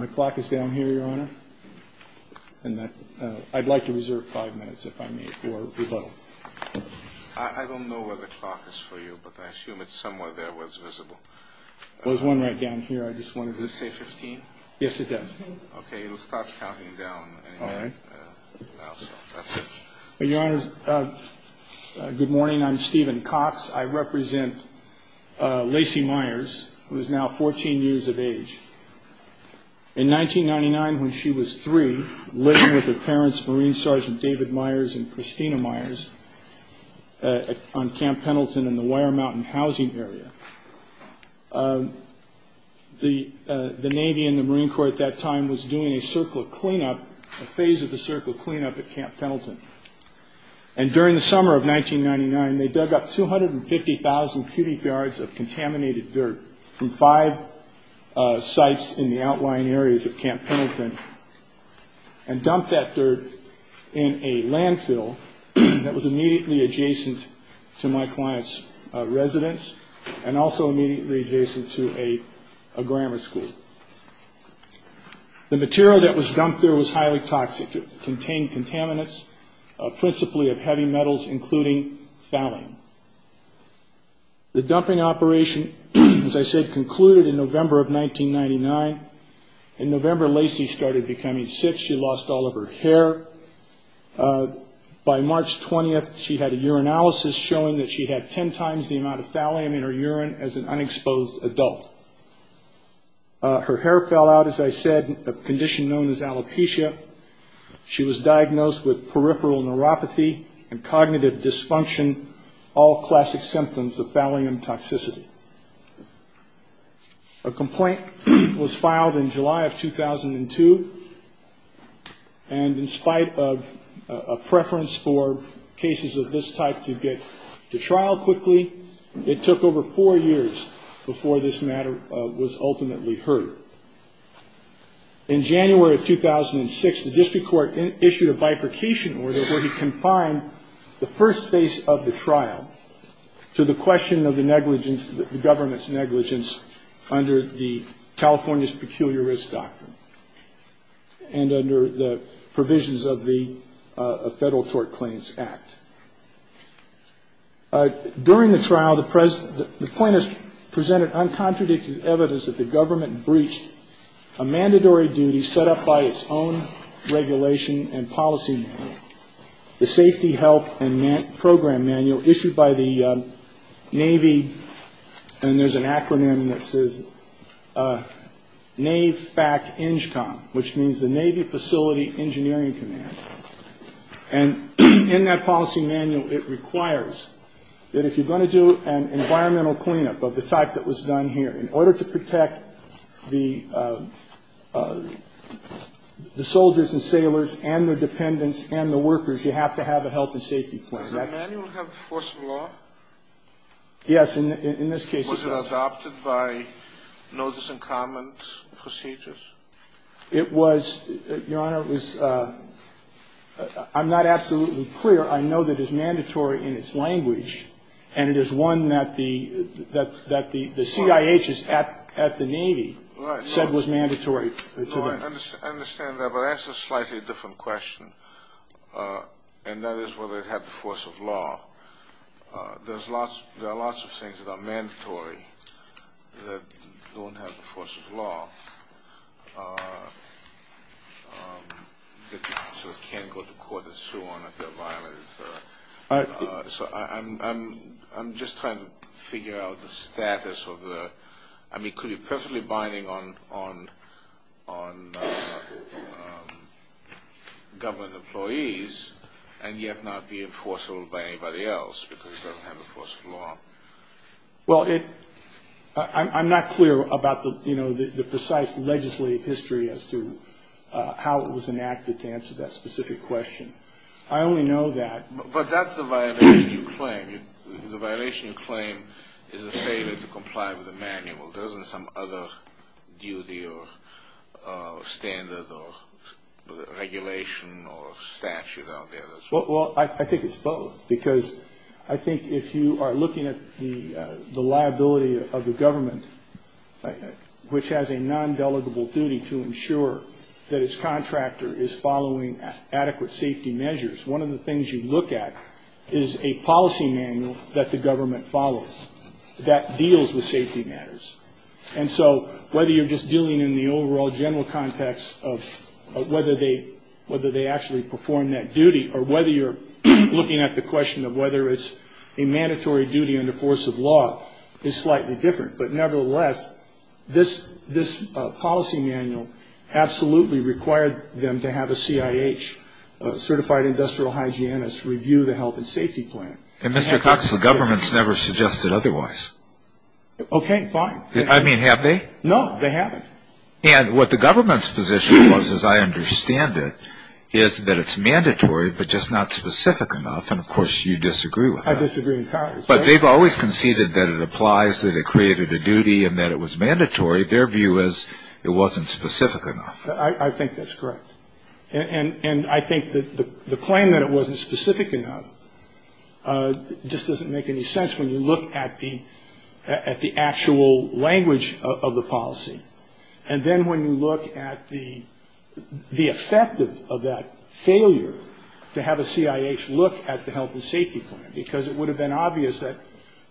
I'd like to reserve five minutes if I may for rebuttal. I don't know where the clock is for you, but I assume it's somewhere there where it's visible. There's one right down here. I just wanted to... Does it say 15? Yes, it does. Okay, let's start counting down. All right. That's it. Good morning. I'm Stephen Cox. I represent Lacey Myers, who is now 14 years of age. In 1999, when she was three, living with her parents, Marine Sergeants David Myers and Christina Myers, on Camp Pendleton in the Wire Mountain housing area, the Navy and the Marine Corps at that time was doing a circle of cleanup, a phase of the circle of cleanup at Camp Pendleton. And during the summer of 1999, they dug up 250,000 cubic yards of contaminated dirt from five sites in the outlying areas of Camp Pendleton and dumped that dirt in a landfill that was immediately adjacent to my client's residence. And also immediately adjacent to a grammar school. The material that was dumped there was highly toxic. It contained contaminants, principally of heavy metals, including phthalate. The dumping operation, as I said, concluded in November of 1999. In November, Lacey started becoming sick. She lost all of her hair. By March 20th, she had a urinalysis showing that she had ten times the amount of thallium in her urine as an unexposed adult. Her hair fell out, as I said, a condition known as alopecia. She was diagnosed with peripheral neuropathy and cognitive dysfunction, all classic symptoms of thallium toxicity. A complaint was filed in July of 2002. And in spite of a preference for cases of this type to get to trial quickly, it took over four years before this matter was ultimately heard. In January of 2006, the district court issued a bifurcation order where he confined the first phase of the trial to the question of the government's negligence under the California's Peculiar Risk Doctrine and under the provisions of the Federal Tort Claims Act. During the trial, the plaintiff presented uncontradicted evidence that the government breached a mandatory duty set up by its own regulation and policy manual, the Safety, Health, and Program Manual issued by the Navy. And there's an acronym that says NAVFACT-ENGCOM, which means the Navy Facility Engineering Command. And in that policy manual, it requires that if you're going to do an environmental cleanup of the type that was done here, in order to protect the soldiers and sailors and their dependents and the workers, you have to have a health and safety plan. Did the manual have force of law? Yes, in this case it does. Was it adopted by notice and comment procedures? It was, Your Honor, I'm not absolutely clear. I know that it's mandatory in its language, and it is one that the CIH at the Navy said was mandatory. I understand that, but that's a slightly different question, and that is whether it had the force of law. There are lots of things that are mandatory that don't have the force of law that you can't go to court and sue on if they're violated. So I'm just trying to figure out the status of the – I mean, could it be perfectly binding on government employees and yet not be enforceable by anybody else because it doesn't have the force of law? Well, I'm not clear about the precise legislative history as to how it was enacted to answer that specific question. I only know that – But that's a violation of claim. The violation of claim is the failure to comply with the manual. There isn't some other duty or standard or regulation or statute out there that's – Well, I think it's both because I think if you are looking at the liability of the government, which has a non-delegable duty to ensure that its contractor is following adequate safety measures, one of the things you look at is a policy manual that the government follows that deals with safety matters. And so whether you're just dealing in the overall general context of whether they actually perform that duty or whether you're looking at the question of whether it's a mandatory duty under force of law is slightly different. But nevertheless, this policy manual absolutely required them to have a CIH, Certified Industrial Hygienist, review the health and safety plan. And, Mr. Cox, the government's never suggested otherwise. Okay, fine. I mean, have they? No, they haven't. And what the government's position was, as I understand it, is that it's mandatory but just not specific enough. And, of course, you disagree with that. I disagree with Cox. But they've always conceded that it applies, that it created a duty, and that it was mandatory. Their view is it wasn't specific enough. I think that's correct. And I think the claim that it wasn't specific enough just doesn't make any sense when you look at the actual language of the policy. And then when you look at the effect of that failure to have a CIH look at the health and safety plan, because it would have been obvious that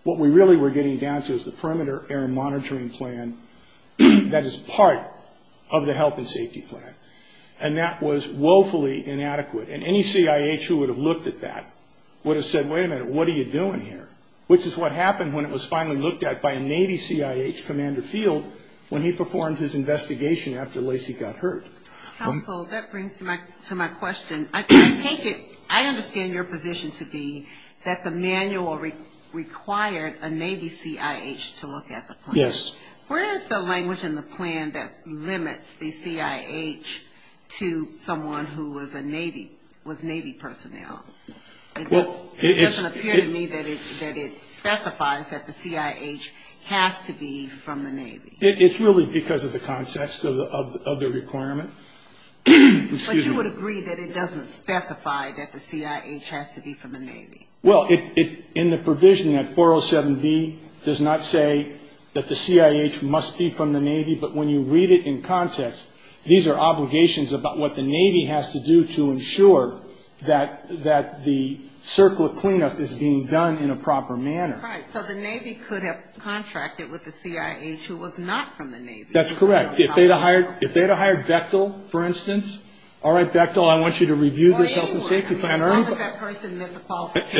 what we really were getting down to is the Perimeter Air Monitoring Plan that is part of the health and safety plan. And that was woefully inadequate. And any CIH who would have looked at that would have said, wait a minute, what are you doing here? Which is what happened when it was finally looked at by a Navy CIH, Commander Field, when he performed his investigation after Lacey got hurt. That brings me to my question. I understand your position to be that the manual required a Navy CIH to look at the plan. Yes. Where is the language in the plan that limits the CIH to someone who was Navy personnel? It doesn't appear to me that it specifies that the CIH has to be from the Navy. It's really because of the context of the requirement. But you would agree that it doesn't specify that the CIH has to be from the Navy. Well, in the provision, that 407B does not say that the CIH must be from the Navy, but when you read it in context, these are obligations about what the Navy has to do to ensure that the circle of cleanup is being done in a proper manner. Right. So the Navy could have contracted with the CIH who was not from the Navy. That's correct. If they had hired Bechtel, for instance, all right, Bechtel, I want you to review the health and safety plan early. As long as that person met the qualifications.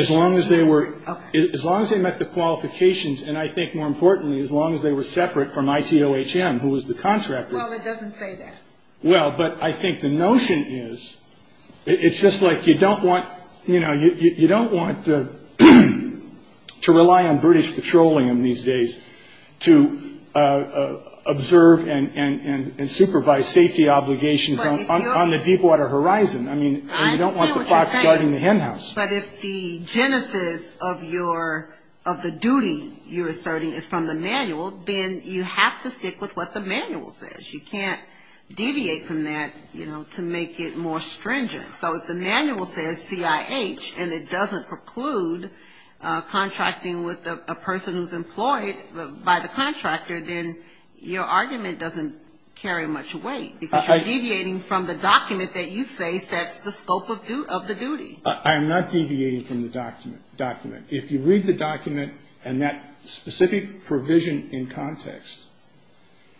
As long as they met the qualifications, and I think more importantly, as long as they were separate from ITOHM, who was the contractor. No, it doesn't say that. Well, but I think the notion is it's just like you don't want to rely on British patrolling in these days to observe and supervise safety obligations on the deepwater horizon. I mean, you don't want the fox guarding the hen house. But if the genesis of the duty you're asserting is from the manual, then you have to stick with what the manual says. You can't deviate from that to make it more stringent. So if the manual says CIH and it doesn't preclude contracting with a person who's employed by the contractor, then your argument doesn't carry much weight. You're deviating from the document that you say sets the scope of the duty. I am not deviating from the document. If you read the document and that specific provision in context,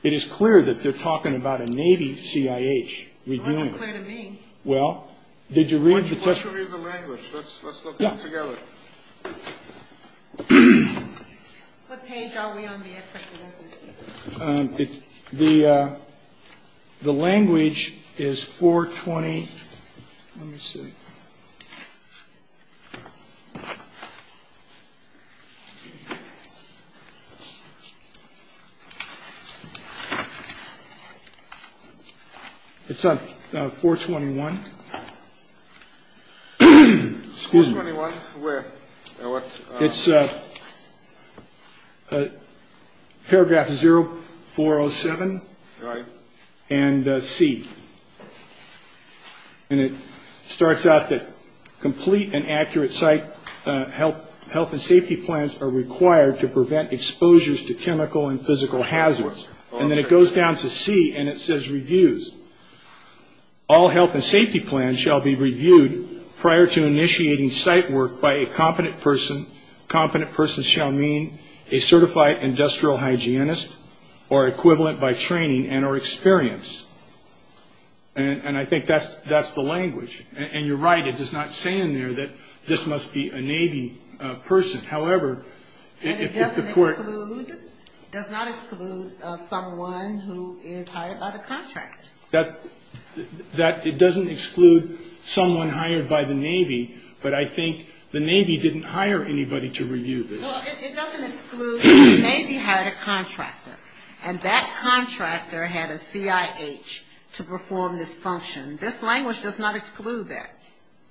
it is clear that they're talking about a Navy CIH reviewing it. It's clear to me. Well, did you read the text? Why don't you read the language? Let's look at it together. What page are we on here? The language is 420. Let me see. It's on 421. 421, where? It's paragraph 0407 and C. And it starts out that complete and accurate site health and safety plans are required to prevent exposures to chemical and physical hazards. And then it goes down to C and it says reviews. All health and safety plans shall be reviewed prior to initiating site work by a competent person. Competent person shall mean a certified industrial hygienist or equivalent by training and or experience. And I think that's the language. And you're right, it does not say in there that this must be a Navy person. And it does not exclude someone who is hired by the contractor. It doesn't exclude someone hired by the Navy, but I think the Navy didn't hire anybody to review this. Well, it doesn't exclude the Navy hired a contractor. And that contractor had a CIH to perform this function. This language does not exclude that.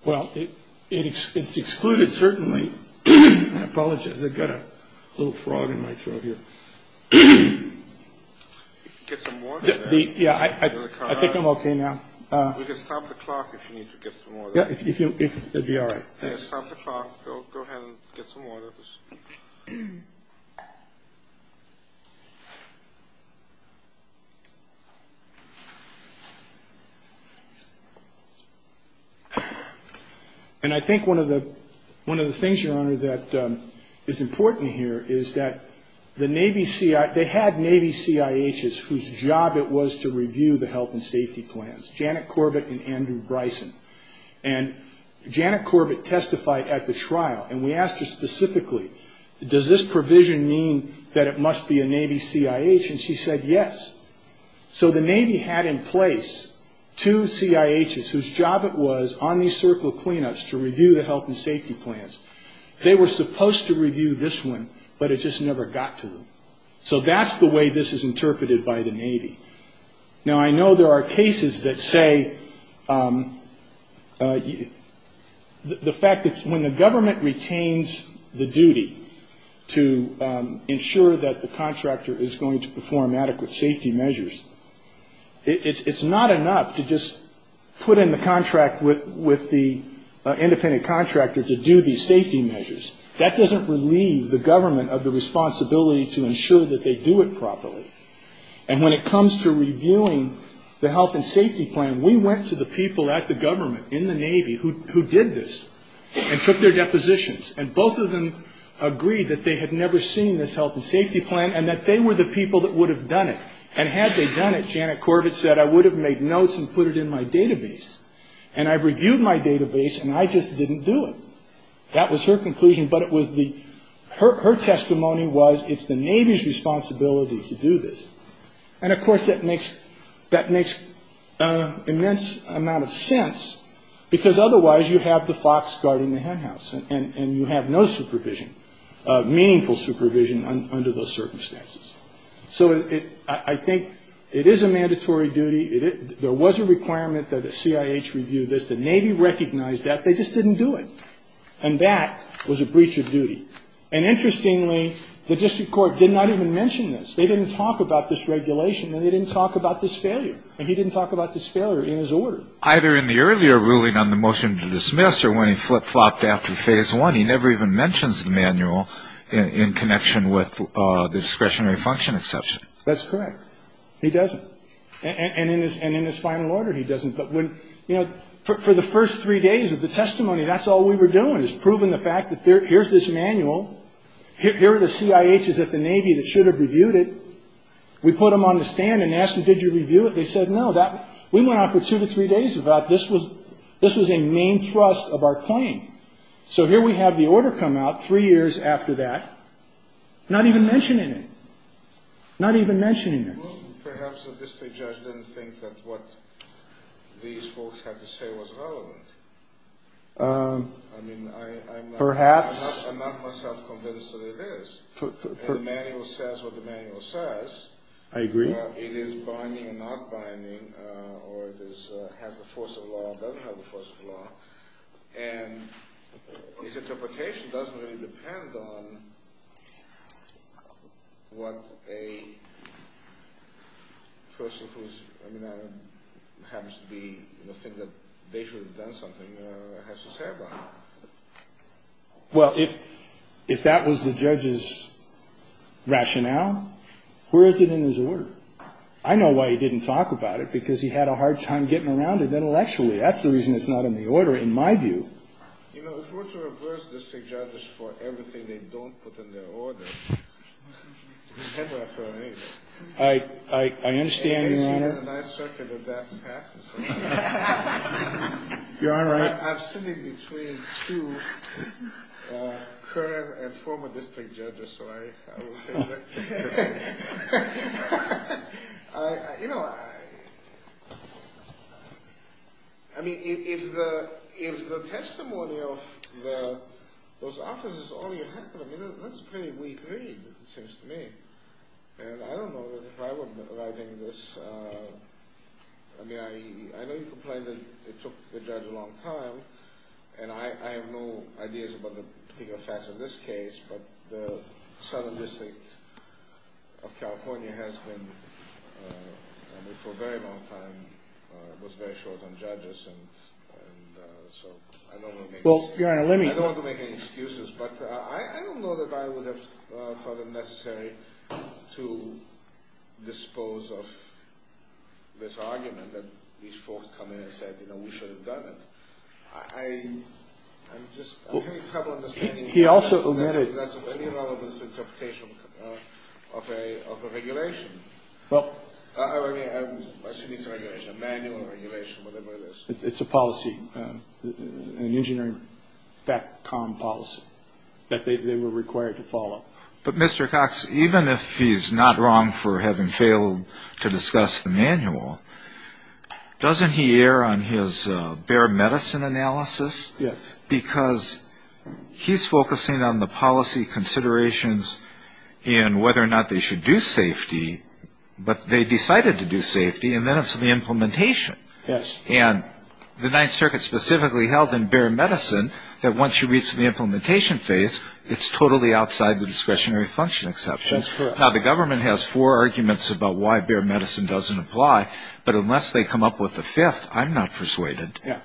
Well, it excluded certainly. I apologize, I've got a little frog in my throat here. Get some water. Yeah, I think I'm okay now. You can stop the clock if you need to get some water. Yeah, it'll be all right. Stop the clock. Go ahead and get some water. And I think one of the things, Your Honor, that is important here is that the Navy CIH, they had Navy CIHs whose job it was to review the health and safety plans, Janet Corbett and Andrew Bryson. And Janet Corbett testified at the trial, and we asked her specifically, does this provision mean that it must be a Navy CIH, and she said yes. So the Navy had in place two CIHs whose job it was on these circle cleanups to review the health and safety plans. They were supposed to review this one, but it just never got to them. So that's the way this is interpreted by the Navy. Now, I know there are cases that say the fact that when the government retains the duty to ensure that the contractor is going to It's not enough to just put in the contract with the independent contractor to do these safety measures. That doesn't relieve the government of the responsibility to ensure that they do it properly. And when it comes to reviewing the health and safety plan, we went to the people at the government in the Navy who did this and took their depositions, and both of them agreed that they had never seen this health and safety plan and that they were the people that would have done it. And had they done it, Janet Corbett said, I would have made notes and put it in my database. And I reviewed my database, and I just didn't do it. That was her conclusion, but her testimony was it's the Navy's responsibility to do this. And, of course, that makes an immense amount of sense, because otherwise you have the fox guarding the hen house, and you have no supervision, meaningful supervision under those circumstances. So I think it is a mandatory duty. There was a requirement that the CIH review this. The Navy recognized that. They just didn't do it. And that was a breach of duty. And, interestingly, the district court did not even mention this. They didn't talk about this regulation, and they didn't talk about this failure. And he didn't talk about this failure in his order. But either in the earlier ruling on the motion to dismiss or when he flip-flopped after phase one, he never even mentions the manual in connection with the discretionary function exception. That's correct. He doesn't. And in his final order, he doesn't. But, you know, for the first three days of the testimony, that's all we were doing, was proving the fact that here's this manual, here are the CIHs at the Navy that should have reviewed it. We put them on the stand and asked them, did you review it? They said no. We went on for two to three days about this was a main thrust of our claim. So here we have the order come out three years after that, not even mentioning it. Not even mentioning it. Perhaps the district judge didn't think that what these folks had to say was relevant. Perhaps. I'm not myself convinced that it is. The manual says what the manual says. I agree. It is binding and not binding, or it has the force of law and doesn't have the force of law. And his interpretation doesn't really depend on what a person who's, you know, happens to be in the opinion that they should have done something has to say about it. Well, if that was the judge's rationale, where is it in his order? I know why he didn't talk about it, because he had a hard time getting around it intellectually. That's the reason it's not in the order, in my view. You know, if we're to reverse the district judges for everything they don't put in their order, you have to ask them anyway. I understand, Your Honor. And I certainly did that in practice. Your Honor. I'm sitting between two current and former district judges. Sorry. I will say that. You know, I mean, if the testimony of those officers is all you have, I mean, that's a pretty weak read, it seems to me. And I don't know if I would like any of this. I mean, I know you complained that it took the judge a long time, and I have no ideas about the legal facts of this case, but the Sonoma District of California has been, I mean, for a very long time, was very short on judges, and so I don't want to make any excuses. Well, Your Honor, let me. I don't want to make any excuses, but I don't know that I would have felt it necessary to dispose of this argument that these folks come in and said, you know, we should have done it. I'm just having trouble understanding. He also omitted. Any relevant interpretation of a regulation. Well. I mean, a city regulation, manual regulation, whatever it is. It's a policy. An engineering FACCOM policy that they were required to follow. But, Mr. Cox, even if he's not wrong for having failed to discuss the manual, doesn't he err on his bare medicine analysis? Yes. Because he's focusing on the policy considerations and whether or not they should do safety, but they decided to do safety, and then it's the implementation. Yes. And the Ninth Circuit specifically held in bare medicine that once you reach the implementation phase, it's totally outside the discretionary function exception. That's correct. Now, the government has four arguments about why bare medicine doesn't apply, but unless they come up with a fifth, I'm not persuaded. Yes.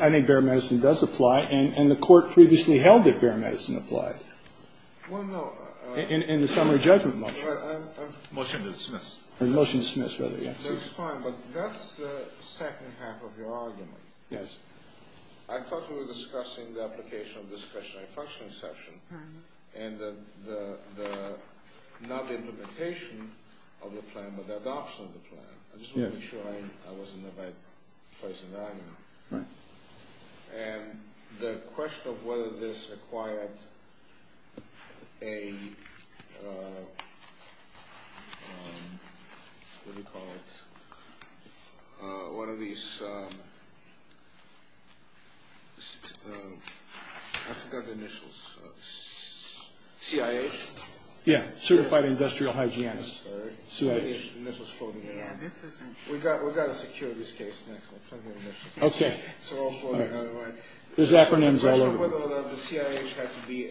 I think bare medicine does apply, and the court previously held that bare medicine applied. Well, no. In the summary judgment motion. Motion to dismiss. Motion to dismiss, yes. That's fine, but that's the second half of your argument. Yes. I thought you were discussing the application of discretionary function exception and not the implementation of the plan, but the adoption of the plan. Yes. I just wanted to be sure I was in the right place in the argument. Right. And the question of whether this acquired a, what do you call it, one of these, I forgot the initials, CIA? Yes, Certified Industrial Hygienist. CIA. We've got to secure this case. Okay. This acronym is all over. The question of whether the CIA has to be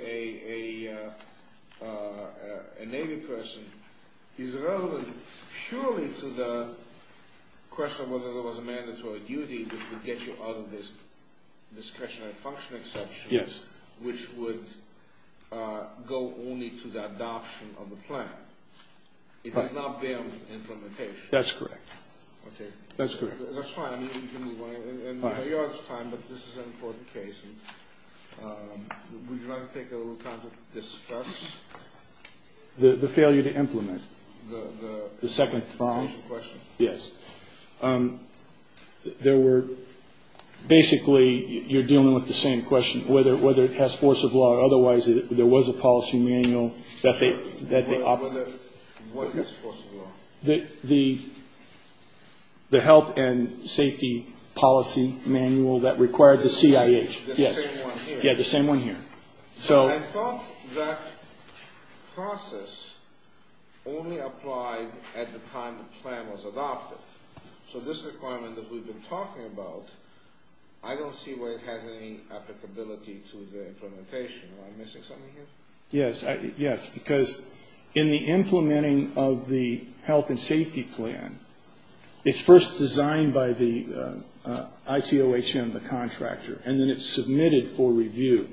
a naming person is relevant, surely, to the question of whether there was a mandatory duty that would get you out of this discretionary function exception, which would go only to the adoption of the plan. It does not bear implementation. That's correct. Okay. That's fine. In New York's time, but this is an important case, would you like to take a little time to discuss? The failure to implement. The second question? Yes. There were, basically, you're dealing with the same question, whether it has force of law, What is force of law? The health and safety policy manual that required the CIA. The same one here. Yes, the same one here. I thought that process only applied at the time the plan was adopted. So this requirement that we've been talking about, I don't see where it has any applicability to the implementation. Am I missing something here? Yes. Because in the implementing of the health and safety plan, it's first designed by the ICOHM, the contractor, and then it's submitted for review.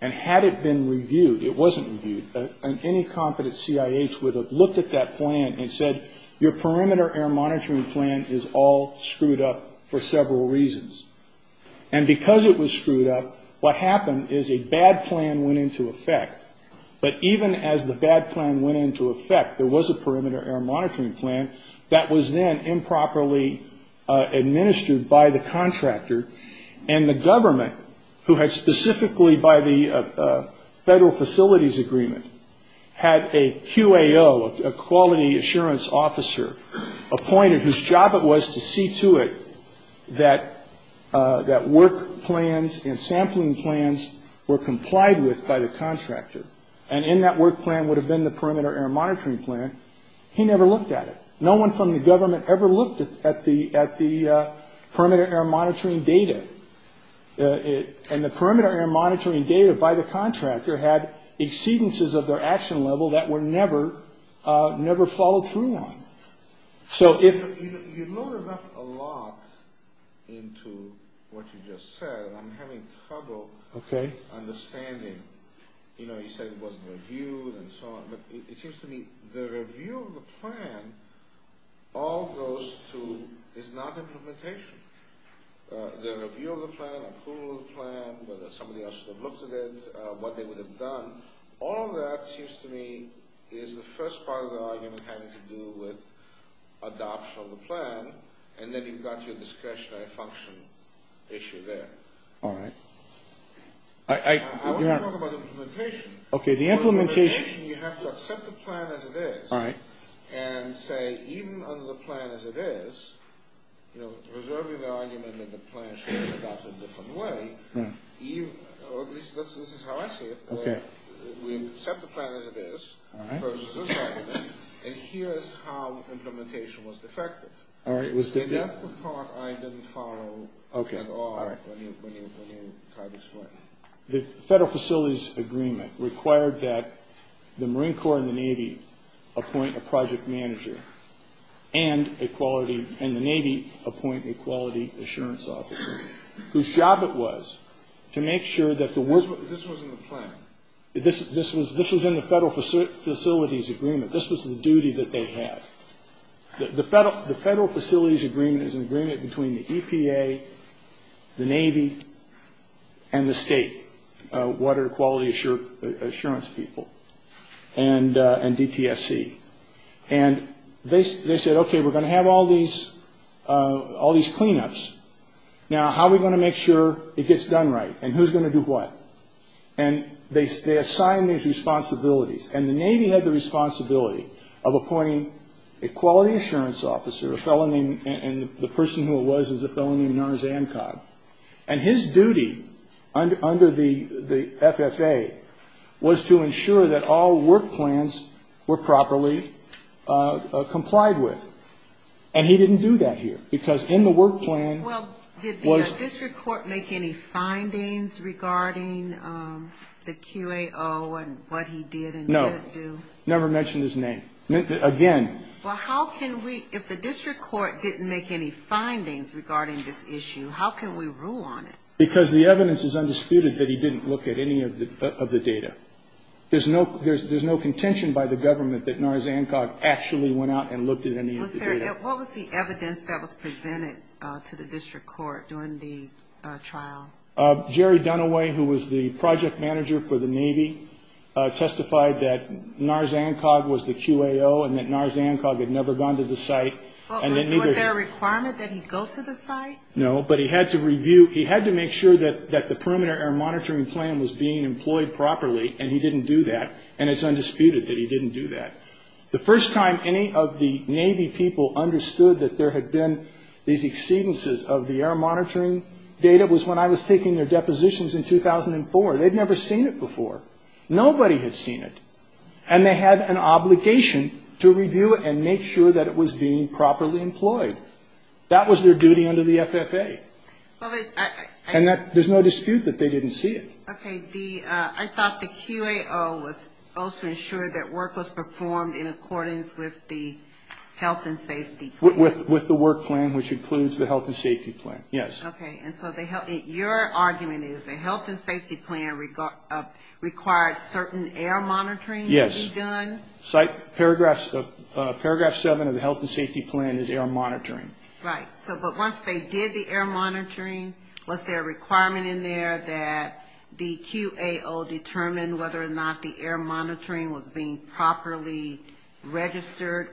And had it been reviewed, it wasn't reviewed, and any competent CIH would have looked at that plan and said, your perimeter air monitoring plan is all screwed up for several reasons. And because it was screwed up, what happened is a bad plan went into effect. But even as the bad plan went into effect, there was a perimeter air monitoring plan that was then improperly administered by the contractor. And the government, who had specifically, by the federal facilities agreement, had a QAO, a quality assurance officer, appointed whose job it was to see to it that work plans and sampling plans were complied with by the contractor. And in that work plan would have been the perimeter air monitoring plan. He never looked at it. No one from the government ever looked at the perimeter air monitoring data. And the perimeter air monitoring data by the contractor had exceedances of their action level that were never followed through on. You loaded up a lot into what you just said. I'm having trouble understanding. You know, you said it wasn't reviewed and so on. But it seems to me the review of the plan, all of those two, is not implementation. The review of the plan, approval of the plan, whether somebody else would have looked at it, what they would have done. All of that seems to me is the first part of the argument having to do with adoption of the plan. And then you've got your discretionary function issue there. All right. I want to talk about implementation. Okay, the implementation. The implementation, you have to accept the plan as it is. All right. And say, even under the plan as it is, you know, preserving the argument that the plan should be adopted a different way, this is how I see it. Okay. We accept the plan as it is. All right. And here's how implementation was effective. All right. That's the part I didn't follow. Okay. The federal facilities agreement required that the Marine Corps and the Navy appoint a project manager and the Navy appoint a quality assurance officer. Whose job it was to make sure that the work was in the plan. This was in the federal facilities agreement. This was the duty that they had. The federal facilities agreement is an agreement between the EPA, the Navy, and the state water quality assurance people and DPSC. And they said, okay, we're going to have all these cleanups. Now, how are we going to make sure it gets done right? And who's going to do what? And they assigned me a responsibility. And the Navy had the responsibility of appointing a quality assurance officer, a fellow named, and the person who it was is a fellow named Nurse Ancon. And his duty under the FFA was to ensure that all work plans were properly complied with. And he didn't do that here. Because in the work plan was. Did the district court make any findings regarding the QAO and what he did and didn't do? No. Never mentioned his name. Again. Well, how can we, if the district court didn't make any findings regarding this issue, how can we rule on it? Because the evidence is undisputed that he didn't look at any of the data. There's no contention by the government that Nurse Ancon actually went out and looked at any of the data. What was the evidence that was presented to the district court during the trial? Jerry Dunaway, who was the project manager for the Navy, testified that Nurse Ancon was the QAO and that Nurse Ancon had never gone to the site. Was there a requirement that he go to the site? No. But he had to review, he had to make sure that the perimeter monitoring plan was being employed properly. And he didn't do that. And it's undisputed that he didn't do that. The first time any of the Navy people understood that there had been these exceedances of the air monitoring data was when I was taking their depositions in 2004. They'd never seen it before. Nobody had seen it. And they had an obligation to review it and make sure that it was being properly employed. That was their duty under the FFA. And there's no dispute that they didn't see it. Okay. I thought the QAO was supposed to ensure that work was performed in accordance with the health and safety plan. With the work plan, which includes the health and safety plan. Yes. Okay. And so your argument is the health and safety plan required certain air monitoring to be done? Yes. Paragraph 7 of the health and safety plan is air monitoring. Right. But once they did the air monitoring, was there a requirement in there that the QAO determine whether or not the air monitoring was being properly registered?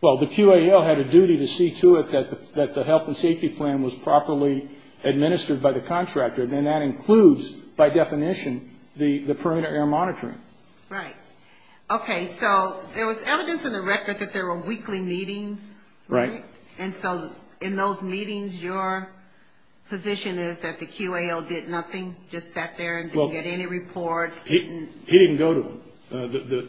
Well, the QAO had a duty to see to it that the health and safety plan was properly administered by the contractor. And that includes, by definition, the perimeter air monitoring. Right. Okay. So there was evidence in the record that there were weekly meetings. Right. And so in those meetings, your position is that the QAO did nothing? Just sat there and didn't get any reports? He didn't go to them.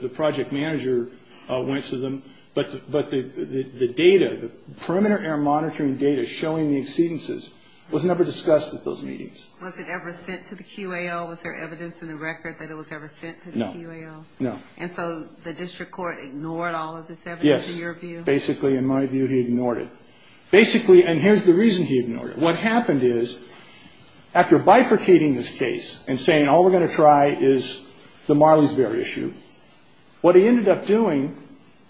The project manager went to them. But the data, the perimeter air monitoring data showing the exceedances was never discussed at those meetings. Was it ever sent to the QAO? Was there evidence in the record that it was ever sent to the QAO? No. No. And so the district court ignored all of this evidence in your view? Yes. Basically, in my view, he ignored it. Basically, and here's the reason he ignored it. What happened is, after bifurcating this case and saying, all we're going to try is the Marley's Bear issue, what he ended up doing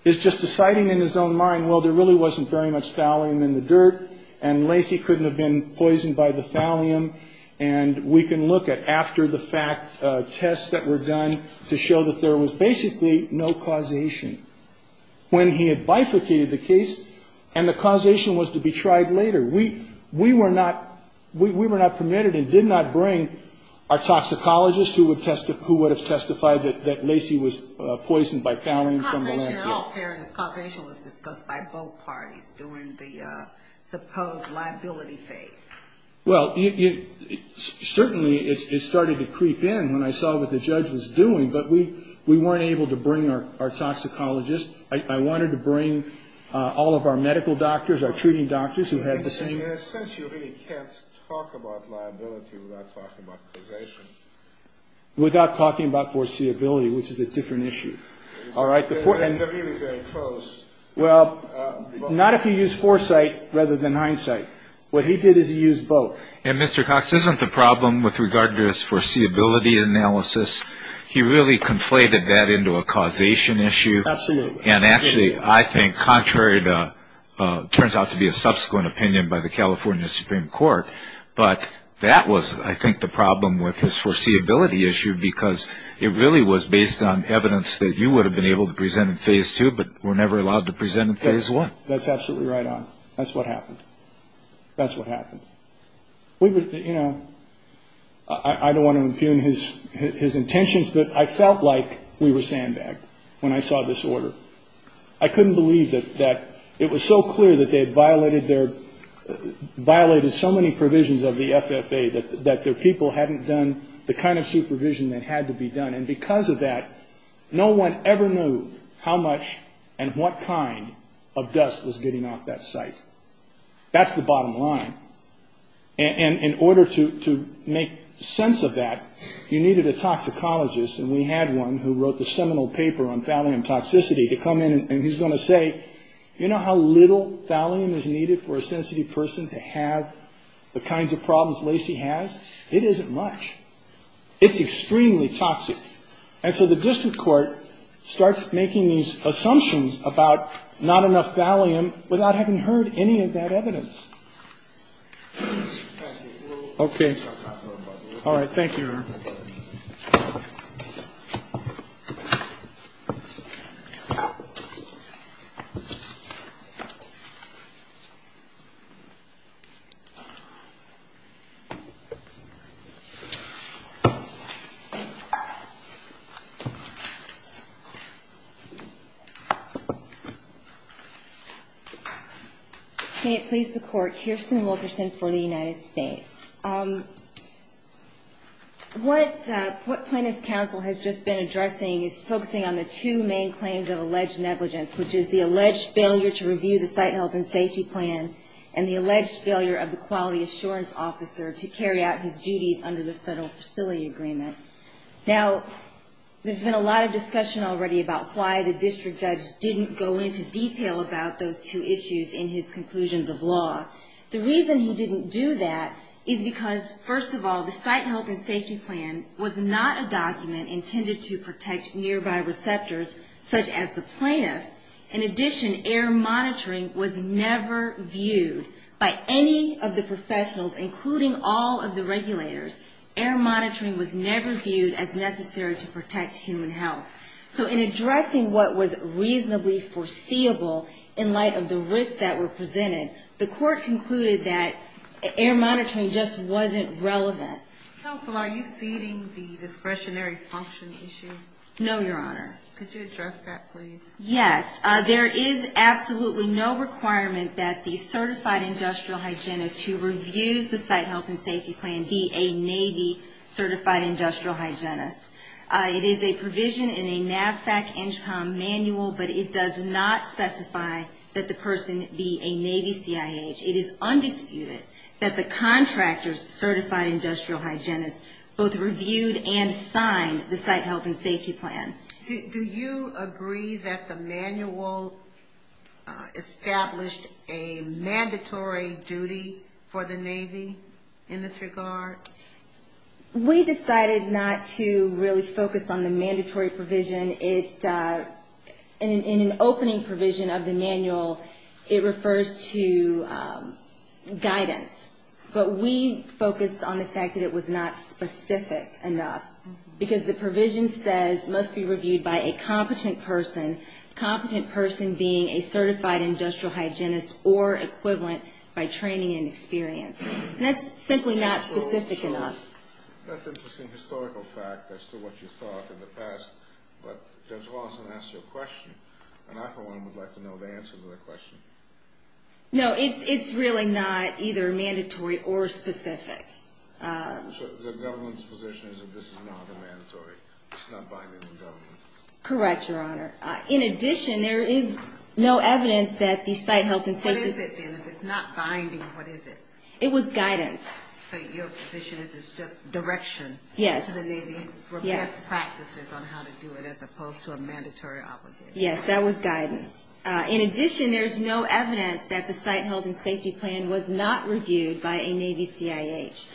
is just deciding in his own mind, well, there really wasn't very much thallium in the dirt and Lacey couldn't have been poisoned by the thallium. And we can look at after the fact tests that were done to show that there was basically no causation. When he had bifurcated the case and the causation was to be tried later, we were not permitted and did not bring our toxicologist who would have testified that Lacey was poisoned by thallium from the landfill. How did you know the population was disposed by both parties during the supposed liability phase? Well, certainly it started to creep in when I saw what the judge was doing, but we weren't able to bring our toxicologist. I wanted to bring all of our medical doctors, our treating doctors who had the same. And essentially, you can't talk about liability without talking about causation. Without talking about foreseeability, which is a different issue. All right. They're really very close. Well, not if you use foresight rather than hindsight. What he did is he used both. And Mr. Cox isn't the problem with regard to his foreseeability analysis. He really conflated that into a causation issue. Absolutely. And actually, I think contrary to what turns out to be a subsequent opinion by the California Supreme Court, but that was, I think, the problem with his foreseeability issue because it really was based on evidence that you would have been able to present in phase two, but were never allowed to present in phase one. That's absolutely right on. That's what happened. That's what happened. You know, I don't want to impugn his intentions, but I felt like we were standing back when I saw this order. I couldn't believe that it was so clear that they had violated so many provisions of the FFA that their people hadn't done the kind of supervision that had to be done. And because of that, no one ever knew how much and what kind of dust was getting off that site. That's the bottom line. And in order to make sense of that, you needed a toxicologist, and we had one who wrote the seminal paper on thallium toxicity to come in and he's going to say, you know how little thallium is needed for a sensitive person to have the kinds of problems Lacey has? It isn't much. It's extremely toxic. And so the district court starts making these assumptions about not enough evidence. I don't have any of that evidence. Okay. All right. Thank you. May it please the court. Kirsten Wilkerson for the United States. What plaintiff's counsel has just been addressing is focusing on the two main claims of alleged negligence, which is the alleged failure to review the site health and safety plan and the alleged failure of the quality assurance officer to carry out his duties under the federal facility agreement. Now, there's been a lot of discussion already about why the district judge didn't go into detail about those two issues in his conclusions of law. The reason he didn't do that is because, first of all, the site health and safety plan was not a document intended to protect nearby receptors such as the plaintiff. In addition, air monitoring was never viewed by any of the professionals, including all of the regulators. Air monitoring was never viewed as necessary to protect human health. So in addressing what was reasonably foreseeable in light of the risks that were presented, the court concluded that air monitoring just wasn't relevant. Counsel, are you feeding the discretionary function issue? No, Your Honor. Could you address that, please? Yes. There is absolutely no requirement that the certified industrial hygienist who reviews the site health and safety plan be a Navy certified industrial hygienist. It is a provision in a NAVFAC NCHPOM manual, but it does not specify that the person be a Navy CIH. It is undisputed that the contractor's certified industrial hygienist both reviewed and signed the site health and safety plan. Do you agree that the manual established a mandatory duty for the Navy in this regard? We decided not to really focus on the mandatory provision. In an opening provision of the manual, it refers to guidance, but we focused on the fact that it was not specific enough because the provision says must be reviewed by a competent person, competent person being a certified industrial hygienist or equivalent by training and experience. That's simply not specific enough. That's an interesting historical fact as to what you thought in the past, but Judge Lawson asked a question, and I for one would like to know the answer to that question. No, it's really not either mandatory or specific. So the government's position is that this is not mandatory, it's not binding on government? Correct, Your Honor. In addition, there is no evidence that the site health and safety plan What is it then? It's not binding, what is it? It was guidance. So your position is it's just direction to the Navy for best practices on how to do it as opposed to a mandatory obligation? Yes, that was guidance. In addition, there is no evidence that the site health and safety plan was not reviewed by a Navy CIH.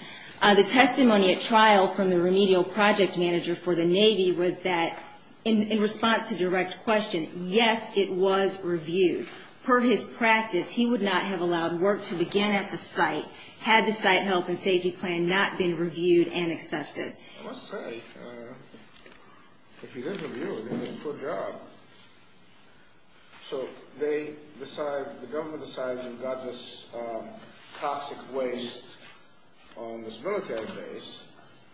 The testimony at trial from the remedial project manager for the Navy was that in response to direct question, yes, it was reviewed. Per his practice, he would not have allowed work to begin at the site had the site health and safety plan not been reviewed and accepted. I must say, if he didn't review it, he did a poor job. So they decide, the government decides we've got this toxic waste on this military base,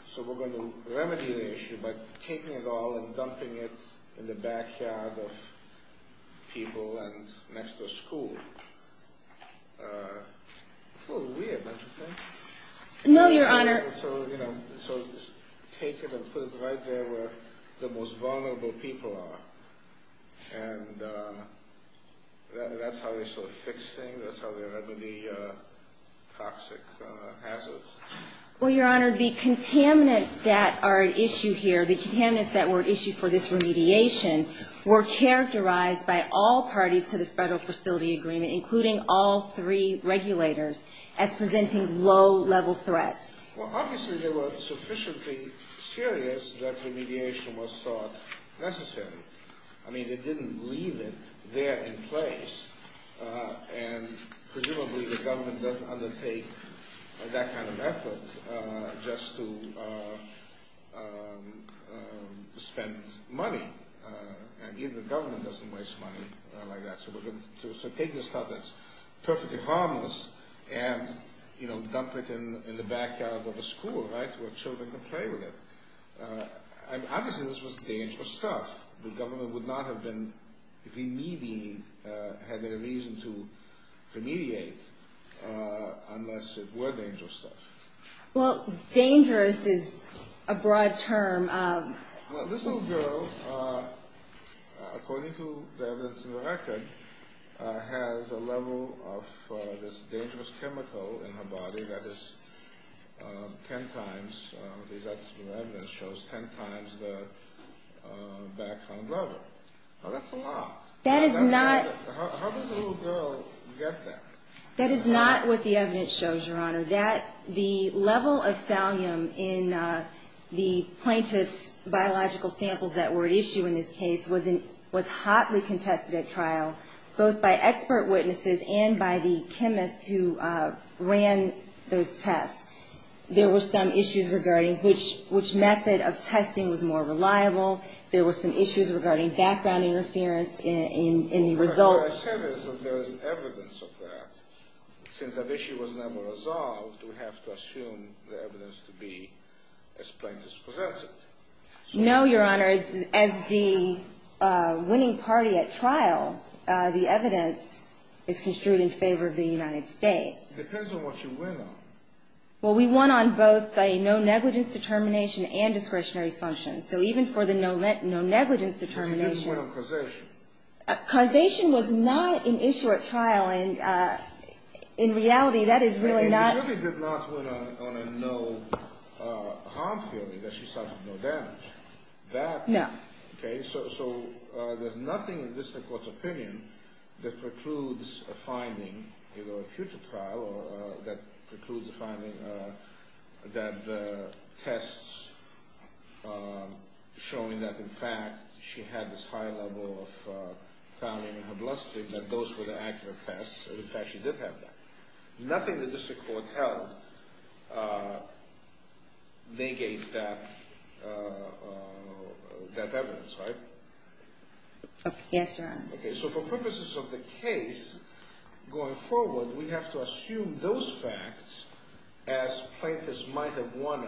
so we're going to remedy the issue by taking it all and dumping it in the backyard of people and next to a school. It's a little weird, don't you think? No, Your Honor. So take it and put it right there where the most vulnerable people are, and that's how they start fixing, that's how they remedy toxic hazards. Well, Your Honor, the contaminants that are at issue here, the contaminants that were at issue for this remediation, were characterized by all parties to the federal facility agreement, including all three regulators, as presenting low-level threats. Well, obviously they were sufficiently serious that remediation was thought necessary. I mean, it didn't leave it there in place, and presumably the government doesn't undertake that kind of effort just to spend money. Again, the government doesn't waste money like that. So take this stuff that's perfectly harmless and dump it in the backyard of a school, right, where children can play with it. Obviously this was dangerous stuff. The government would not have been, if you need me, had any reason to mediate unless it were dangerous stuff. Well, dangerous is a broad term. This little girl, according to the records, has a level of this dangerous chemical in her body that is ten times, the evidence shows, ten times that of her own brother. That's a lot. How does a little girl get that? That is not what the evidence shows, Your Honor. The level of thallium in the plaintiff's biological samples that were at issue in this case was hotly contested at trial, both by expert witnesses and by the chemist who ran those tests. There were some issues regarding which method of testing was more reliable. There were some issues regarding background interference in the results. But there is evidence of that. Since that issue was never resolved, we have to assume the evidence to be as plain as presented. No, Your Honor. As the winning party at trial, the evidence is construed in favor of the United States. It depends on what you win on. Well, we won on both a no-negligence determination and discretionary assumptions. So even for the no-negligence determination. And you didn't win on causation. Causation was not an issue at trial. In reality, that is really not. And you really did not win on a no-confidence that she suffered no damage. No. Okay. So there's nothing in the District Court's opinion that precludes a finding, you know, a future trial, that precludes the finding that the tests showing that, in fact, she had this high level of thalamine in her bloodstream, that those were the accurate tests, and, in fact, she did have that. Nothing in the District Court has negated that evidence, right? Yes, Your Honor. Okay. So for purposes of the case, going forward, we have to assume those facts as plaintiffs might have won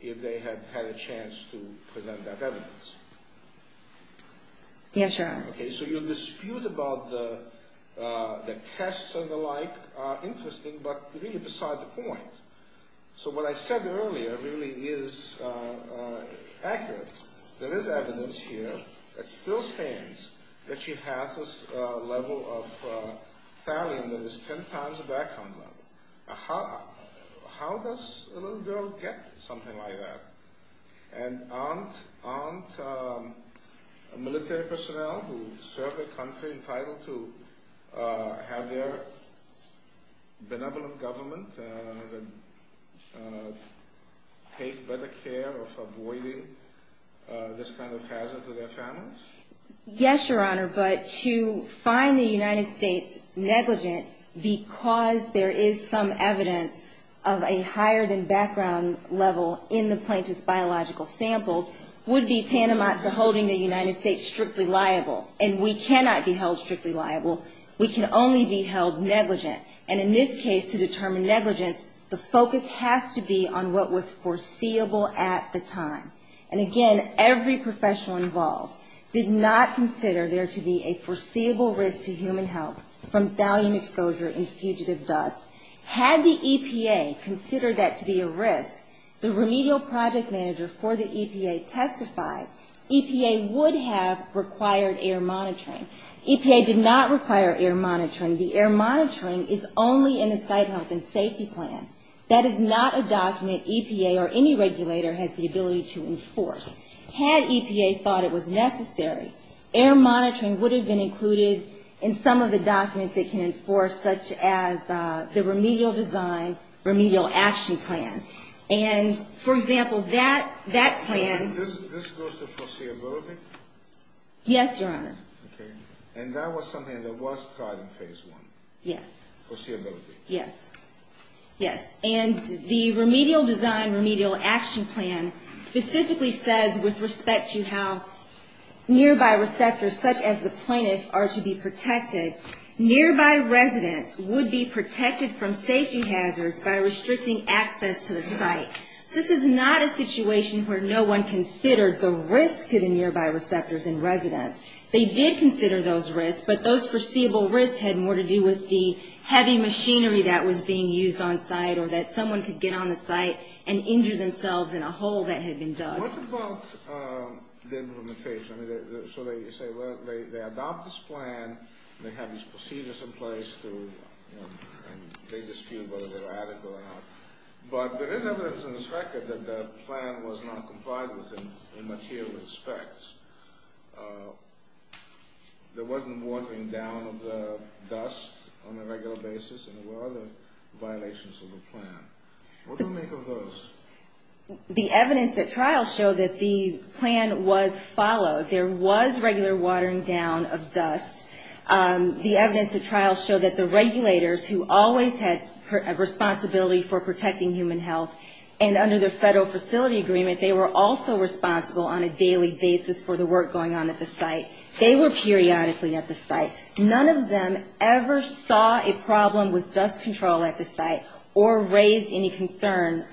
if they had had a chance to present that evidence. Yes, Your Honor. Okay. So your dispute about the tests and the like are interesting, but really beside the point. So what I said earlier really is accurate. There is evidence here that still stands that she has this level of thalamine that is 10 times the background level. How does a little girl get something like that? And aren't military personnel who serve their country entitled to have their benevolent government take better care of avoiding this kind of hazard to their families? Yes, Your Honor, but to find the United States negligent because there is some evidence of a higher than background level in the plaintiff's biological samples would be tantamount to holding the United States strictly liable, and we cannot be held strictly liable. We can only be held negligent. And in this case, to determine negligence, the focus has to be on what was foreseeable at the time. And, again, every professional involved did not consider there to be a foreseeable risk to human health from thalamine exposure and fugitive deaths. Had the EPA considered that to be a risk, the remedial project manager for the EPA testified, EPA would have required air monitoring. EPA did not require air monitoring. The air monitoring is only in the site health and safety plan. That is not a document EPA or any regulator has the ability to enforce. Had EPA thought it was necessary, air monitoring would have been included in some of the documents it can enforce, such as the remedial design, remedial action plan. And, for example, that plan- This goes to foreseeability? Yes, Your Honor. Okay. And that was something that was taught in Phase 1. Yes. Foreseeability. Yes. Yes. And the remedial design, remedial action plan, specifically says with respect to how nearby receptors, such as the plaintiff, are to be protected, nearby residents would be protected from safety hazards by restricting access to the site. This is not a situation where no one considered the risk to the nearby receptors and residents. They did consider those risks, but those foreseeable risks had more to do with the heavy machinery that was being used on site or that someone could get on the site and injure themselves in a hole that had been dug. What about the implementation? So they say they adopt this plan, they have these procedures in place, and they dispute whether they're at it or not. But there is evidence in this record that the plan was not complied with in material respects. There wasn't warping down of the dust on a regular basis, and there were other violations of the plan. What do we make of those? The evidence at trial showed that the plan was followed. There was regular watering down of dust. The evidence at trial showed that the regulators, who always had a responsibility for protecting human health, and under the federal facility agreement, they were also responsible on a daily basis for the work going on at the site. They were periodically at the site. None of them ever saw a problem with dust control at the site or raised any concern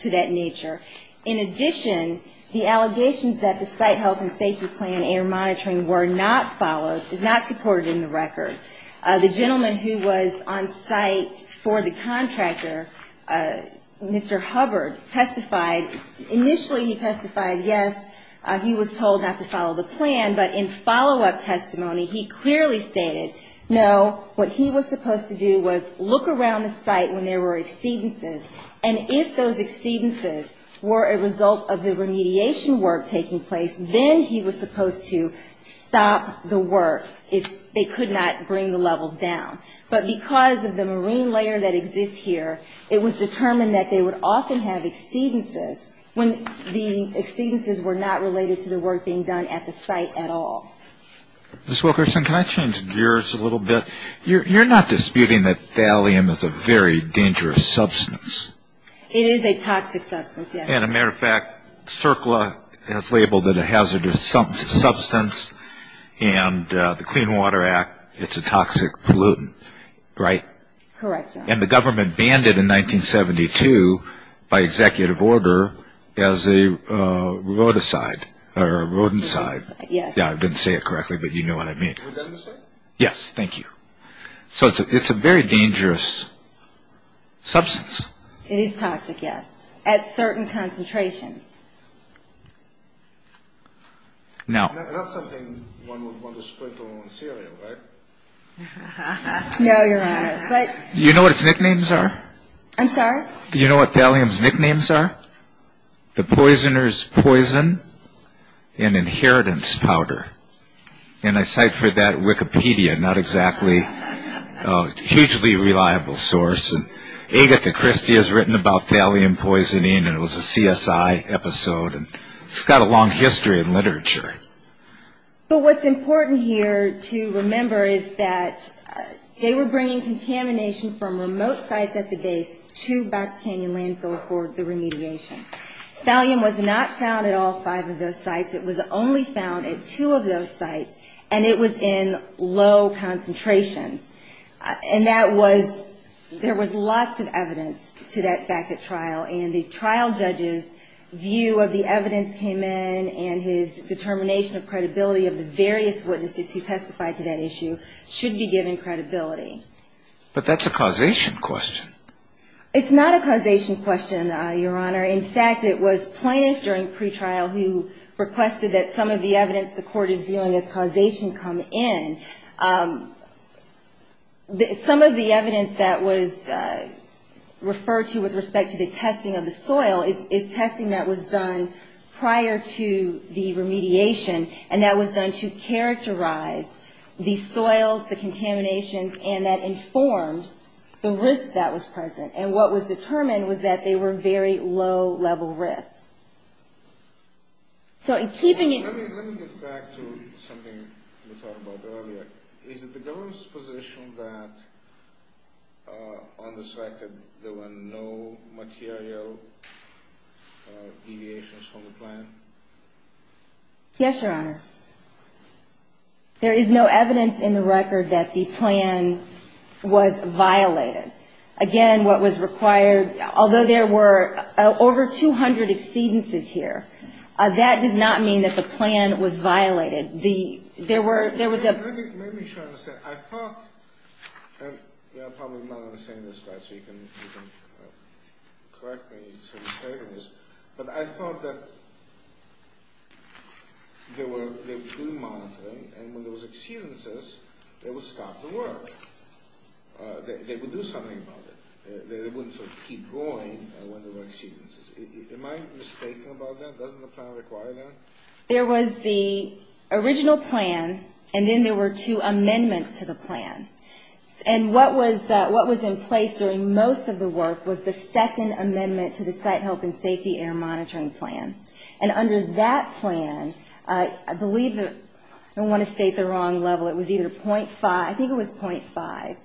to that nature. In addition, the allegations that the site health and safety plan air monitoring were not followed, is not supported in the record. The gentleman who was on site for the contractor, Mr. Hubbard, testified. Initially he testified, yes, he was told not to follow the plan, but in follow-up testimony he clearly stated, no, what he was supposed to do was look around the site when there were exceedances, and if those exceedances were a result of the remediation work taking place, then he was supposed to stop the work if they could not bring the level down. But because of the marine layer that exists here, it was determined that they would often have exceedances when the exceedances were not related to the work being done at the site at all. Ms. Wilkerson, can I change gears a little bit? You're not disputing that thallium is a very dangerous substance. It is a toxic substance, yes. As a matter of fact, CERCLA has labeled it a hazardous substance, and the Clean Water Act, it's a toxic pollutant, right? Correct, John. And the government banned it in 1972 by executive order as a rodicide or a rodenticide. Yes. Yeah, I didn't say it correctly, but you know what I mean. Yes, thank you. So it's a very dangerous substance. It is toxic, yes, at certain concentrations. Now- That's something one would want to sprinkle on cereal, right? No, Your Honor, but- Do you know what its nicknames are? I'm sorry? Do you know what thallium's nicknames are? The Poisoner's Poison and Inheritance Powder. And I ciphered that in Wikipedia, not exactly a hugely reliable source. Agatha Christie has written about thallium poisoning, and it was a CSI episode. It's got a long history in literature. But what's important here to remember is that they were bringing contamination from remote sites at the base to Baskin Canyon Landfill for the remediation. Thallium was not found at all five of those sites. It was only found at two of those sites, and it was in low concentration. And that was- there was lots of evidence to that fact at trial, and the trial judge's view of the evidence came in, and his determination of credibility of the various witnesses who testified to that issue should be given credibility. But that's a causation question. It's not a causation question, Your Honor. In fact, it was plaintiffs during pretrial who requested that some of the evidence the court is viewing as causation come in. Some of the evidence that was referred to with respect to the testing of the soil is testing that was done prior to the remediation, and that was done to characterize the soils, the contaminations, and that informed the risk that was present. And what was determined was that they were very low-level risks. So in keeping it- Let me get back to something you talked about earlier. Is it the government's position that on this record there were no material deviations from the plan? Yes, Your Honor. There is no evidence in the record that the plan was violated. Again, what was required- Although there were over 200 exceedances here, that did not mean that the plan was violated. There was a- Let me try to say- I thought- Yeah, I probably might understand this better, so you can correct me if I'm saying this. But I thought that there was premonitoring, and when there was exceedances, it would stop the work. They would do something about it. They wouldn't sort of keep going when there were exceedances. Am I mistaking about that? Doesn't the plan require that? There was the original plan, and then there were two amendments to the plan. And what was in place during most of the work was the second amendment to the Site Health and Safety Air Monitoring Plan. And under that plan, I believe- I don't want to state the wrong level. It was either .5-I think it was .5.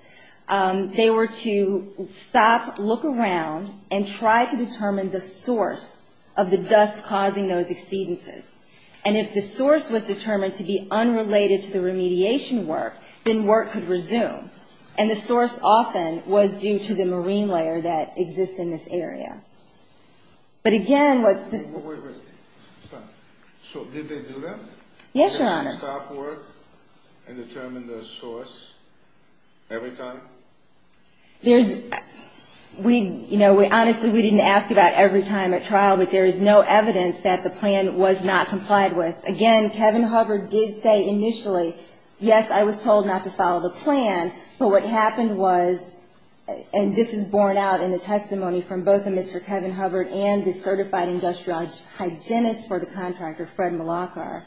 They were to stop, look around, and try to determine the source of the dust causing those exceedances. And if the source was determined to be unrelated to the remediation work, then work could resume. And the source often was due to the marine layer that exists in this area. But again, what- Wait, wait, wait. Stop. So did they do that? Yes, Your Honor. Did they stop work and determine the source every time? There's-we-you know, honestly, we didn't ask about every time at trial. But there is no evidence that the plan was not complied with. Again, Kevin Hubbard did say initially, yes, I was told not to follow the plan. But what happened was-and this is borne out in the testimony from both of Mr. Kevin Hubbard and the certified industrial hygienist for the contractor, Fred Malachar,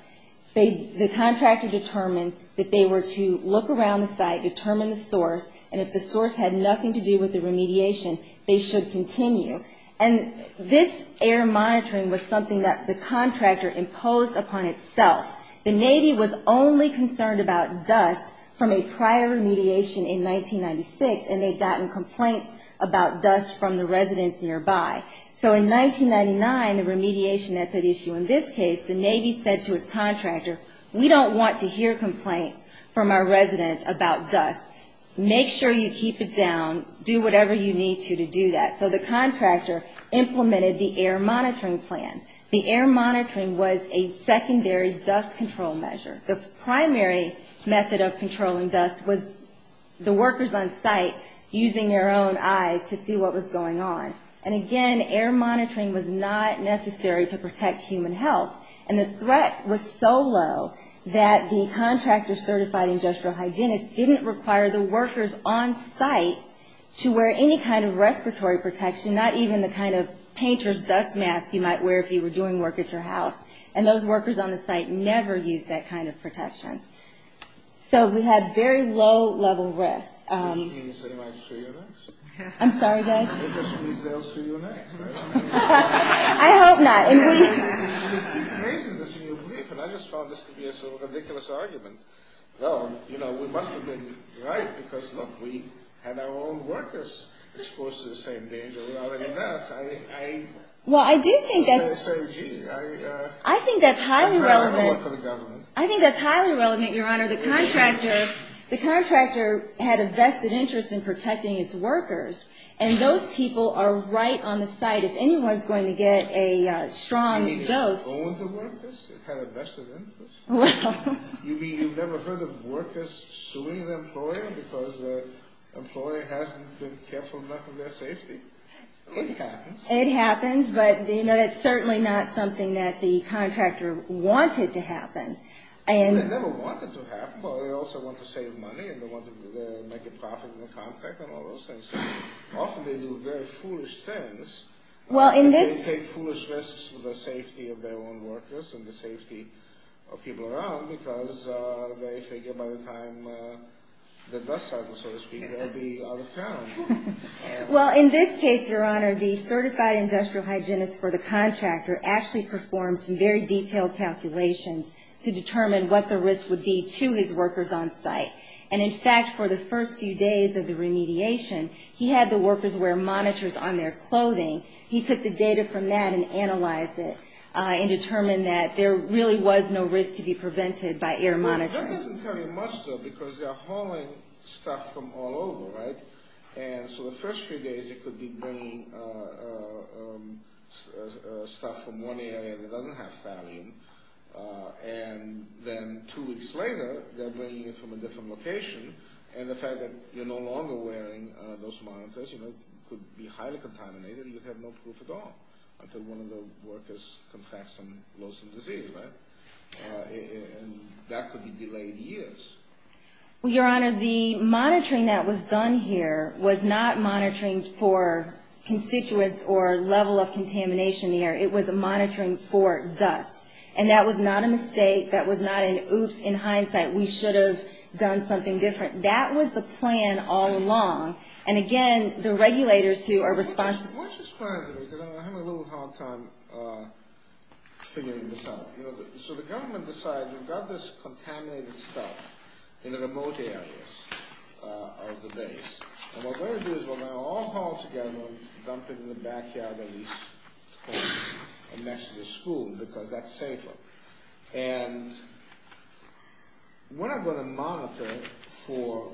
the contractor determined that they were to look around the site, determine the source, and if the source had nothing to do with the remediation, they should continue. And this air monitoring was something that the contractor imposed upon itself. The Navy was only concerned about dust from a prior remediation in 1996, and they'd gotten complaints about dust from the residents nearby. So in 1999, the remediation method issue in this case, the Navy said to its contractor, we don't want to hear complaints from our residents about dust. Make sure you keep it down. Do whatever you need to to do that. So the contractor implemented the air monitoring plan. The air monitoring was a secondary dust control measure. The primary method of controlling dust was the workers on site using their own eyes to see what was going on. And again, air monitoring was not necessary to protect human health. And the threat was so low that the contractor certified industrial hygienist didn't require the workers on site to wear any kind of respiratory protection, not even the kind of painter's dust mask you might wear if you were doing work at your house. And those workers on the site never used that kind of protection. So we had very low level risk. I'm sorry, guys. I hope not. I just found this to be a sort of ridiculous argument. Well, you know, we must have been right because, look, we had our own workers exposed to the same danger. Well, I do think that's highly relevant. I think that's highly relevant, Your Honor. The contractor had a vested interest in protecting its workers. And those people are right on the site. If anyone's going to get a strong dose. You mean it's owned the workers? It had a vested interest? Well. You mean you've never heard of workers suing the employer because the employer hasn't been careful enough of their safety? It happens. It happens, but, you know, that's certainly not something that the contractor wanted to happen. They never wanted to happen. Well, they also wanted to save money and they wanted to make a profit in the contract and all those things. Often they do very foolish things. They take foolish risks for the safety of their own workers and the safety of people around because they figure by the time the dust settles, so to speak, they'll be out of town. Well, in this case, Your Honor, the certified industrial hygienist for the contractor actually performed some very detailed calculations to determine what the risk would be to his workers on site. And, in fact, for the first few days of the remediation, he had the workers wear monitors on their clothing. He took the data from that and analyzed it and determined that there really was no risk to be prevented by air monitoring. Well, that wasn't very much so because they're hauling stuff from all over, right? And so the first few days they could be bringing stuff from one area to another half thousand, and then two weeks later they're bringing it from a different location. And the fact that you're no longer wearing those monitors, you know, could be highly contaminated. You would have no proof at all until one of the workers confessed and lost the disease, right? And that could be delayed years. Well, Your Honor, the monitoring that was done here was not monitoring for constituents or level of contamination here. It was a monitoring for dust. And that was not a mistake. That was not an oops in hindsight. We should have done something different. That was the plan all along. And, again, the regulators who are responsible. Why don't you explain to me because I'm having a little hard time figuring this out. So the government decides we've got this contaminated stuff in the remote areas of the base. And what we're going to do is we're going to all haul together and dump it in the backyard of the school because that's safer. And we're not going to monitor for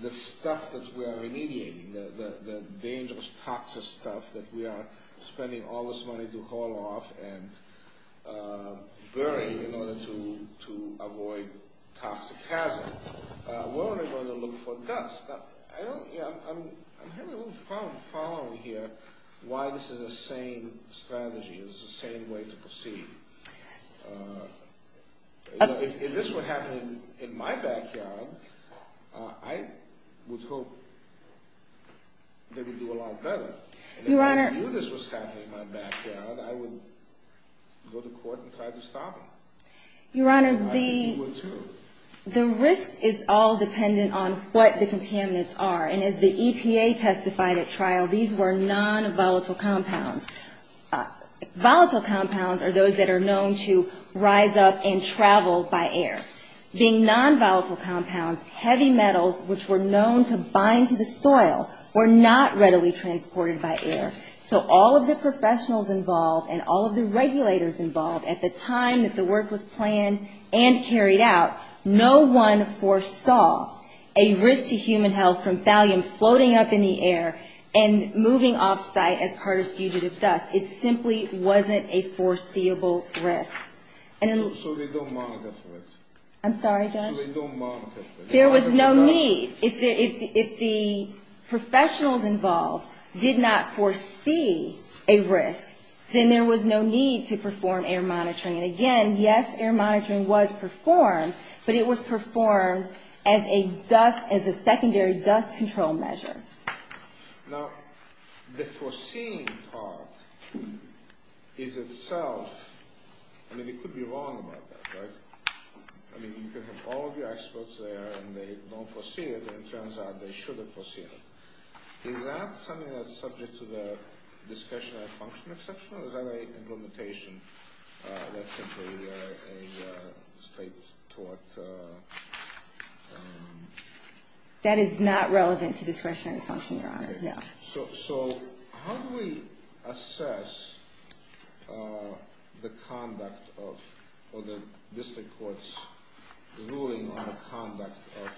the stuff that we are remediating, the dangerous, toxic stuff that we are spending all this money to haul off and bury in order to avoid toxic hazard. We're only going to look for dust. I'm having a little problem following here why this is the same strategy. It's the same way to proceed. If this were happening in my backyard, I would hope they would do a lot better. If this was happening in my backyard, I would go to court and try to stop them. Your Honor, the risk is all dependent on what the contaminants are. And as the EPA testified at trial, these were non-volatile compounds. Volatile compounds are those that are known to rise up and travel by air. Being non-volatile compounds, heavy metals, which were known to bind to the soil, were not readily transported by air. So all of the professionals involved and all of the regulators involved at the time that the work was planned and carried out, no one foresaw a risk to human health from thallium floating up in the air and moving off site as part of fugitive dust. It simply wasn't a foreseeable risk. So they don't monitor for it? I'm sorry, Judge? So they don't monitor for it? There was no need. If the professionals involved did not foresee a risk, then there was no need to perform air monitoring. And again, yes, air monitoring was performed, but it was performed as a secondary dust control measure. Now, the foreseeing part is itself – I mean, you could be wrong about that, right? I mean, you can have all of the experts there and they don't foresee it, but it turns out they should have foreseen it. Is that something that's subject to the discretionary function exception, or is that an implementation that's simply a state-taught… That is not relevant to discretionary function, Your Honor. So how do we assess the conduct of – or the district court's ruling on the conduct of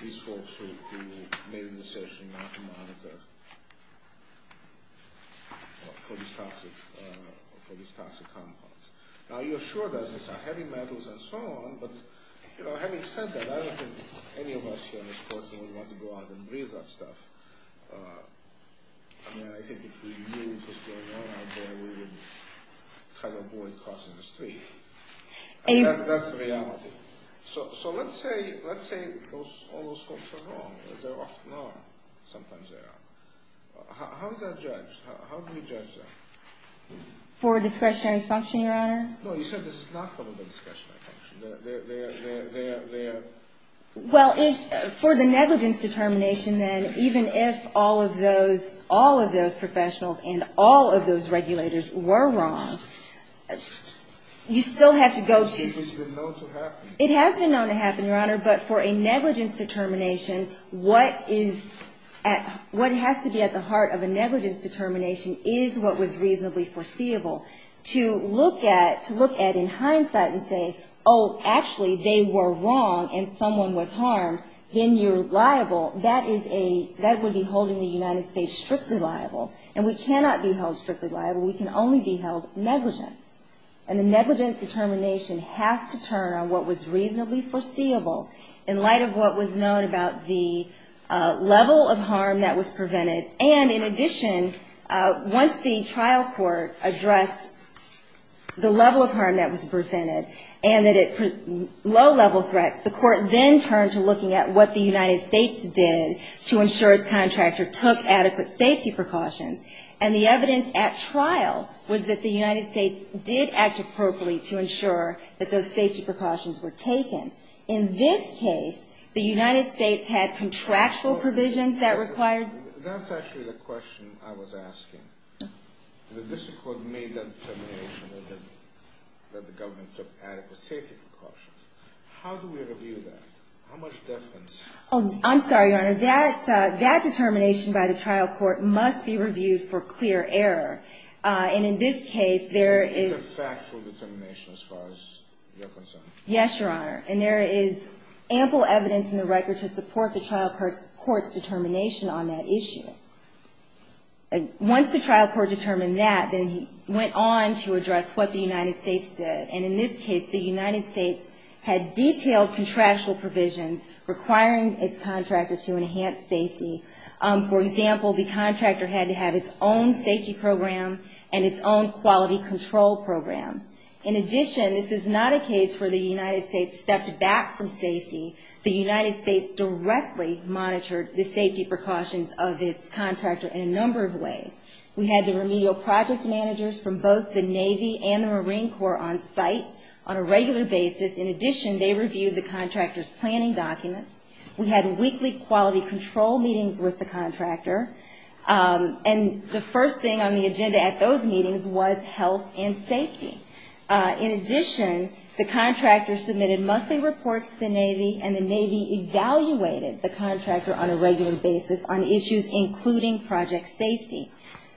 these folks who made the decision not to monitor for these toxic compounds? Now, you're sure that it's heavy metals and so on, but, you know, having said that, I don't think any of us in this courtroom would want to go out and breathe that stuff. I mean, I think if we knew what was going on out there, we would try to avoid crossing the street. That's the reality. So let's say all those folks are wrong. They're often wrong. Sometimes they are. How is that judged? How do we judge that? For discretionary function, Your Honor? No, you said this is not part of the discretionary function. Well, for the negligence determination, then, even if all of those professionals and all of those regulators were wrong, you still have to go to… It has been known to happen. But for a negligence determination, what is – what has to be at the heart of a negligence determination is what was reasonably foreseeable. To look at – to look at in hindsight and say, oh, actually, they were wrong and someone was harmed, then you're liable. That is a – that would be holding the United States strictly liable. And we cannot be held strictly liable. We can only be held negligent. And the negligence determination has to turn on what was reasonably foreseeable in light of what was known about the level of harm that was prevented. And in addition, once the trial court addressed the level of harm that was presented and that it's a low-level threat, the court then turned to looking at what the United States did to ensure its contractor took adequate safety precautions. And the evidence at trial was that the United States did act appropriately to ensure that those safety precautions were taken. In this case, the United States had contractual provisions that required… That's actually the question I was asking. This is what made that determination that the government took adequate safety precautions. How do we review that? How much difference… I'm sorry, Your Honor. That determination by the trial court must be reviewed for clear error. And in this case, there is… It's a factual determination as far as you're concerned. Yes, Your Honor. And there is ample evidence in the record to support the trial court's determination on that issue. Once the trial court determined that, then he went on to address what the United States did. And in this case, the United States had detailed contractual provisions requiring its contractor to enhance safety. For example, the contractor had to have its own safety program and its own quality control program. In addition, this is not a case where the United States stepped back from safety. The United States directly monitored the safety precautions of its contractor in a number of ways. We had the remedial project managers from both the Navy and the Marine Corps on site on a regular basis. In addition, they reviewed the contractor's planning documents. We had weekly quality control meetings with the contractor. And the first thing on the agenda at those meetings was health and safety. In addition, the contractor submitted monthly reports to the Navy, and the Navy evaluated the contractor on a regular basis on issues including project safety.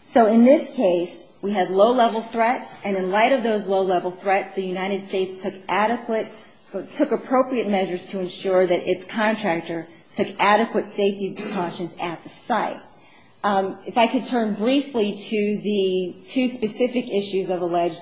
So in this case, we had low-level threats, and in light of those low-level threats, the United States took appropriate measures to ensure that its contractor took adequate safety precautions at the site. If I could turn briefly to the two specific issues of alleged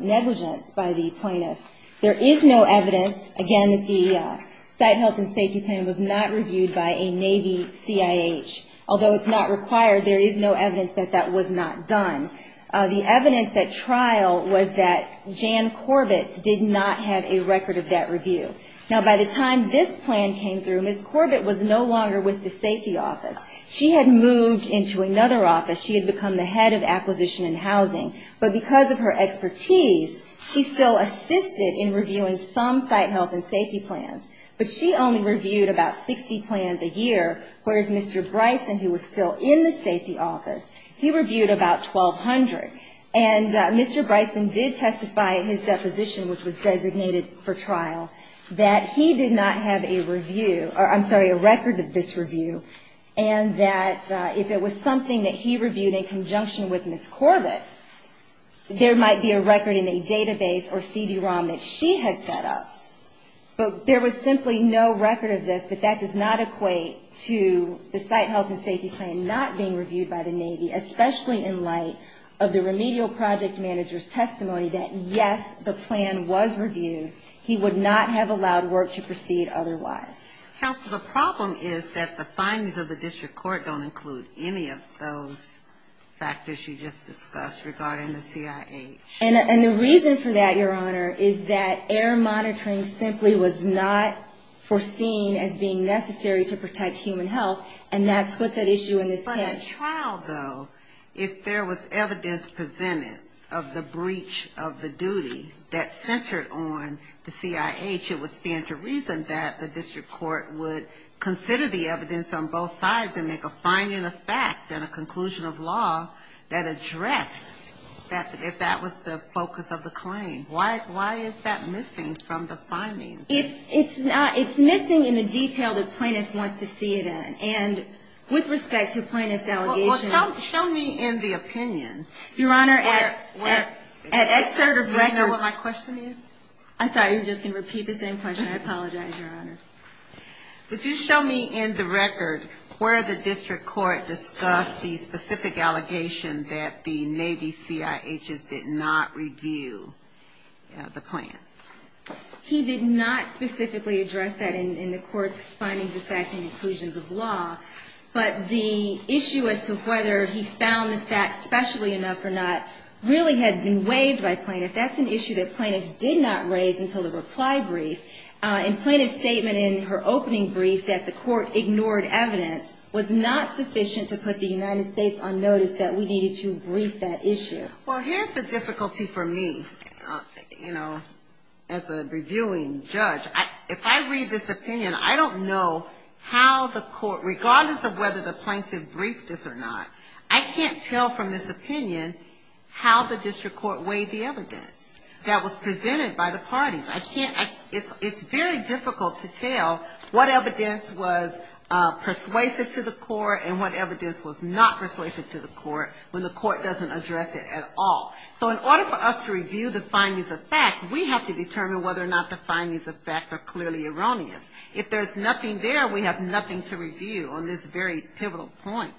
negligence by the plaintiffs. There is no evidence, again, that the site health and safety plan was not reviewed by a Navy CIH. Although it's not required, there is no evidence that that was not done. The evidence at trial was that Jan Corbett did not have a record of that review. Now, by the time this plan came through, Ms. Corbett was no longer with the safety office. She had moved into another office. She had become the head of acquisition and housing. But because of her expertise, she still assisted in reviewing some site health and safety plans. But she only reviewed about 60 plans a year, whereas Mr. Bryson, who was still in the safety office, he reviewed about 1,200. And Mr. Bryson did testify in his deposition, which was designated for trial, that he did not have a review or, I'm sorry, a record of this review and that if it was something that he reviewed in conjunction with Ms. Corbett, there might be a record in a database or CD-ROM that she had set up. But there was simply no record of this. The fact does not equate to the site health and safety plan not being reviewed by the Navy, especially in light of the remedial project manager's testimony that, yes, the plan was reviewed. He would not have allowed work to proceed otherwise. So the problem is that the findings of the district court don't include any of those factors you just discussed regarding the CIH. And the reason for that, Your Honor, is that error monitoring simply was not foreseen as being necessary to protect human health, and that puts that issue in this case. But a trial, though, if there was evidence presented of the breach of the duty that centered on the CIH, it would stand to reason that the district court would consider the evidence on both sides and make a finding of facts and a conclusion of law that addressed if that was the focus of the claim. Why is that missing from the findings? It's not. It's missing in the detail the plaintiff wants to see it in. And with respect to plaintiff's allegations – Well, show me in the opinion. Your Honor, at excerpt of – Do you know what my question is? I'm sorry. You're just going to repeat the same question. I apologize, Your Honor. Could you show me in the record where the district court discussed the specific allegation that the Navy CIHs did not review the claim? He did not specifically address that in the court's findings of facts and conclusions of law, but the issue as to whether he found the facts specially enough or not really had been waived by plaintiff. That's an issue that plaintiff did not raise until the reply brief. And plaintiff's statement in her opening brief that the court ignored evidence was not sufficient to put the United States on notice that we needed to brief that issue. Well, here's the difficulty for me, you know, as a reviewing judge. If I read this opinion, I don't know how the court, regardless of whether the plaintiff briefed this or not, I can't tell from this opinion how the district court waived the evidence that was presented by the parties. I can't – it's very difficult to tell what evidence was persuasive to the court and what evidence was not persuasive to the court when the court doesn't address it at all. So in order for us to review the findings of facts, we have to determine whether or not the findings of facts are clearly erroneous. If there's nothing there, we have nothing to review on this very pivotal point.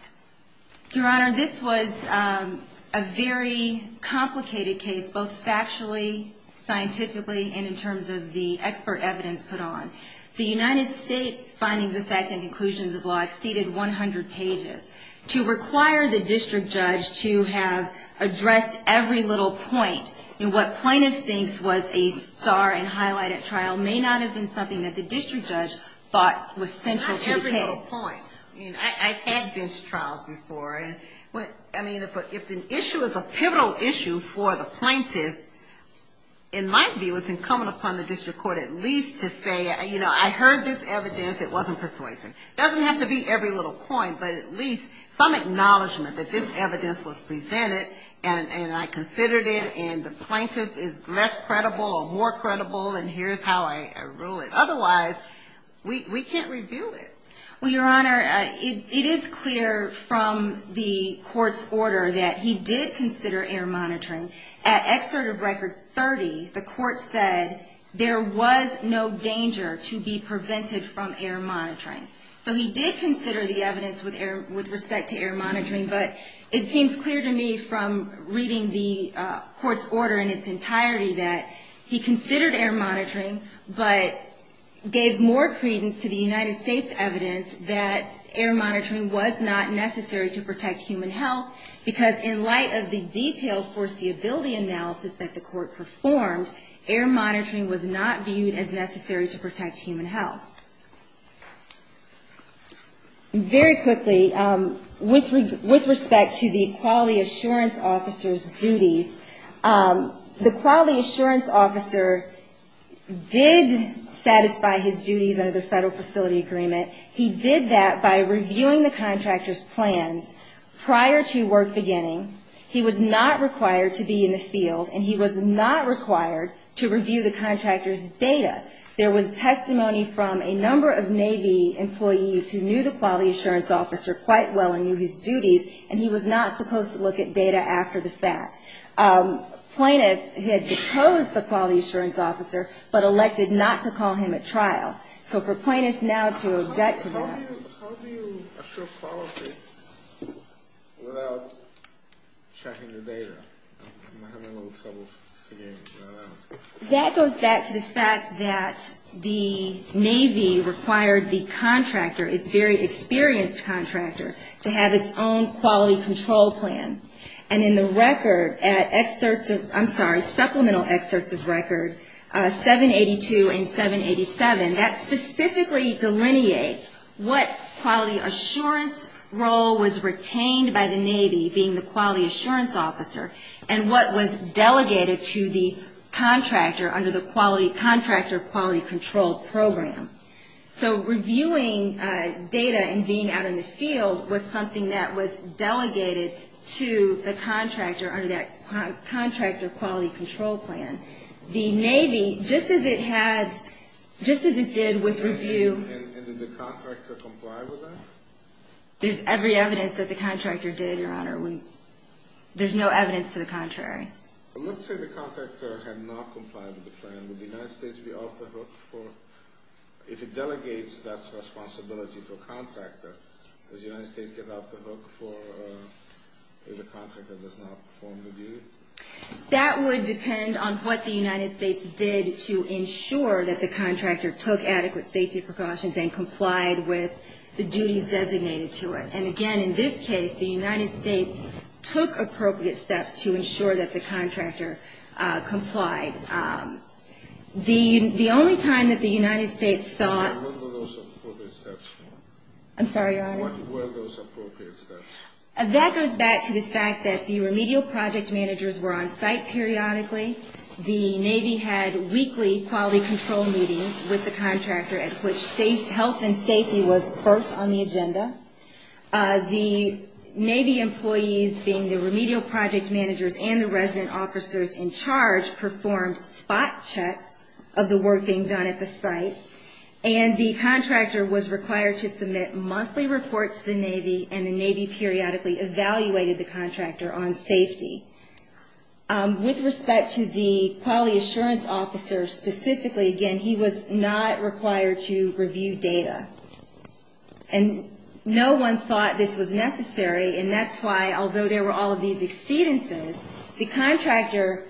Your Honor, this was a very complicated case, both factually, scientifically, and in terms of the expert evidence put on. The United States findings of facts and conclusions of law exceeded 100 pages. To require the district judge to have addressed every little point in what plaintiffs think was a star and highlighted trial may not have been something that the district judge thought was central to the case. Not every little point. I mean, I've had this trial before. I mean, if an issue is a pivotal issue for the plaintiff, in my view, it's incumbent upon the district court at least to say, you know, I heard this evidence, it wasn't persuasive. It doesn't have to be every little point, but at least some acknowledgement that this evidence was presented and I considered it and the plaintiff is less credible or more credible and here's how I rule it. Otherwise, we can't review it. Well, Your Honor, it is clear from the court's order that he did consider air monitoring. At Excerpt of Record 30, the court said there was no danger to be prevented from air monitoring. So he did consider the evidence with respect to air monitoring, but it seems clear to me from reading the court's order in its entirety that he considered air monitoring, but gave more credence to the United States evidence that air monitoring was not necessary to protect human health because in light of the detailed foreseeability analysis that the court performed, air monitoring was not viewed as necessary to protect human health. Very quickly, with respect to the quality assurance officer's duties, the quality assurance officer did satisfy his duties under the Federal Facility Agreement. He did that by reviewing the contractor's plan prior to work beginning. He was not required to be in the field and he was not required to review the contractor's data. There was testimony from a number of Navy employees who knew the quality assurance officer quite well and knew his duties and he was not supposed to look at data after the fact. Plaintiff had deposed the quality assurance officer but elected not to call him at trial. So for plaintiffs now to object to that. How do you assure quality without checking the data? I'm having a little trouble figuring that out. That goes back to the fact that the Navy required the contractor, a very experienced contractor, to have its own quality control plan. And in the record, supplemental excerpts of record 782 and 787, that specifically delineates what quality assurance role was retained by the Navy, being the quality assurance officer, and what was delegated to the contractor under the contractor quality control program. So reviewing data and being out in the field was something that was delegated to the contractor under that contractor quality control plan. The Navy, just as it had, just as it did with review. And did the contractor comply with that? There's every evidence that the contractor did, Your Honor. There's no evidence to the contrary. Well, let's say the contractor had not complied with the plan. Would the United States be off the hook for, if it delegates, that's responsibility for contractor. Does the United States give off the hook for if the contractor does not perform the duty? That would depend on what the United States did to ensure that the contractor took adequate safety precautions and complied with the duties designated to it. And, again, in this case, the United States took appropriate steps to ensure that the contractor complied. The only time that the United States saw... No, no, no, no, those appropriate steps. I'm sorry, Your Honor. Where are those appropriate steps? That goes back to the fact that the remedial project managers were on site periodically. The Navy had weekly quality control meetings with the contractor at which health and safety was first on the agenda. The Navy employees, being the remedial project managers and the resident officers in charge, performed spot checks of the work being done at the site. And the contractor was required to submit monthly reports to the Navy, and the Navy periodically evaluated the contractor on safety. With respect to the quality assurance officer specifically, again, he was not required to review data. And no one thought this was necessary, and that's why, although there were all of these exceedances, the contractor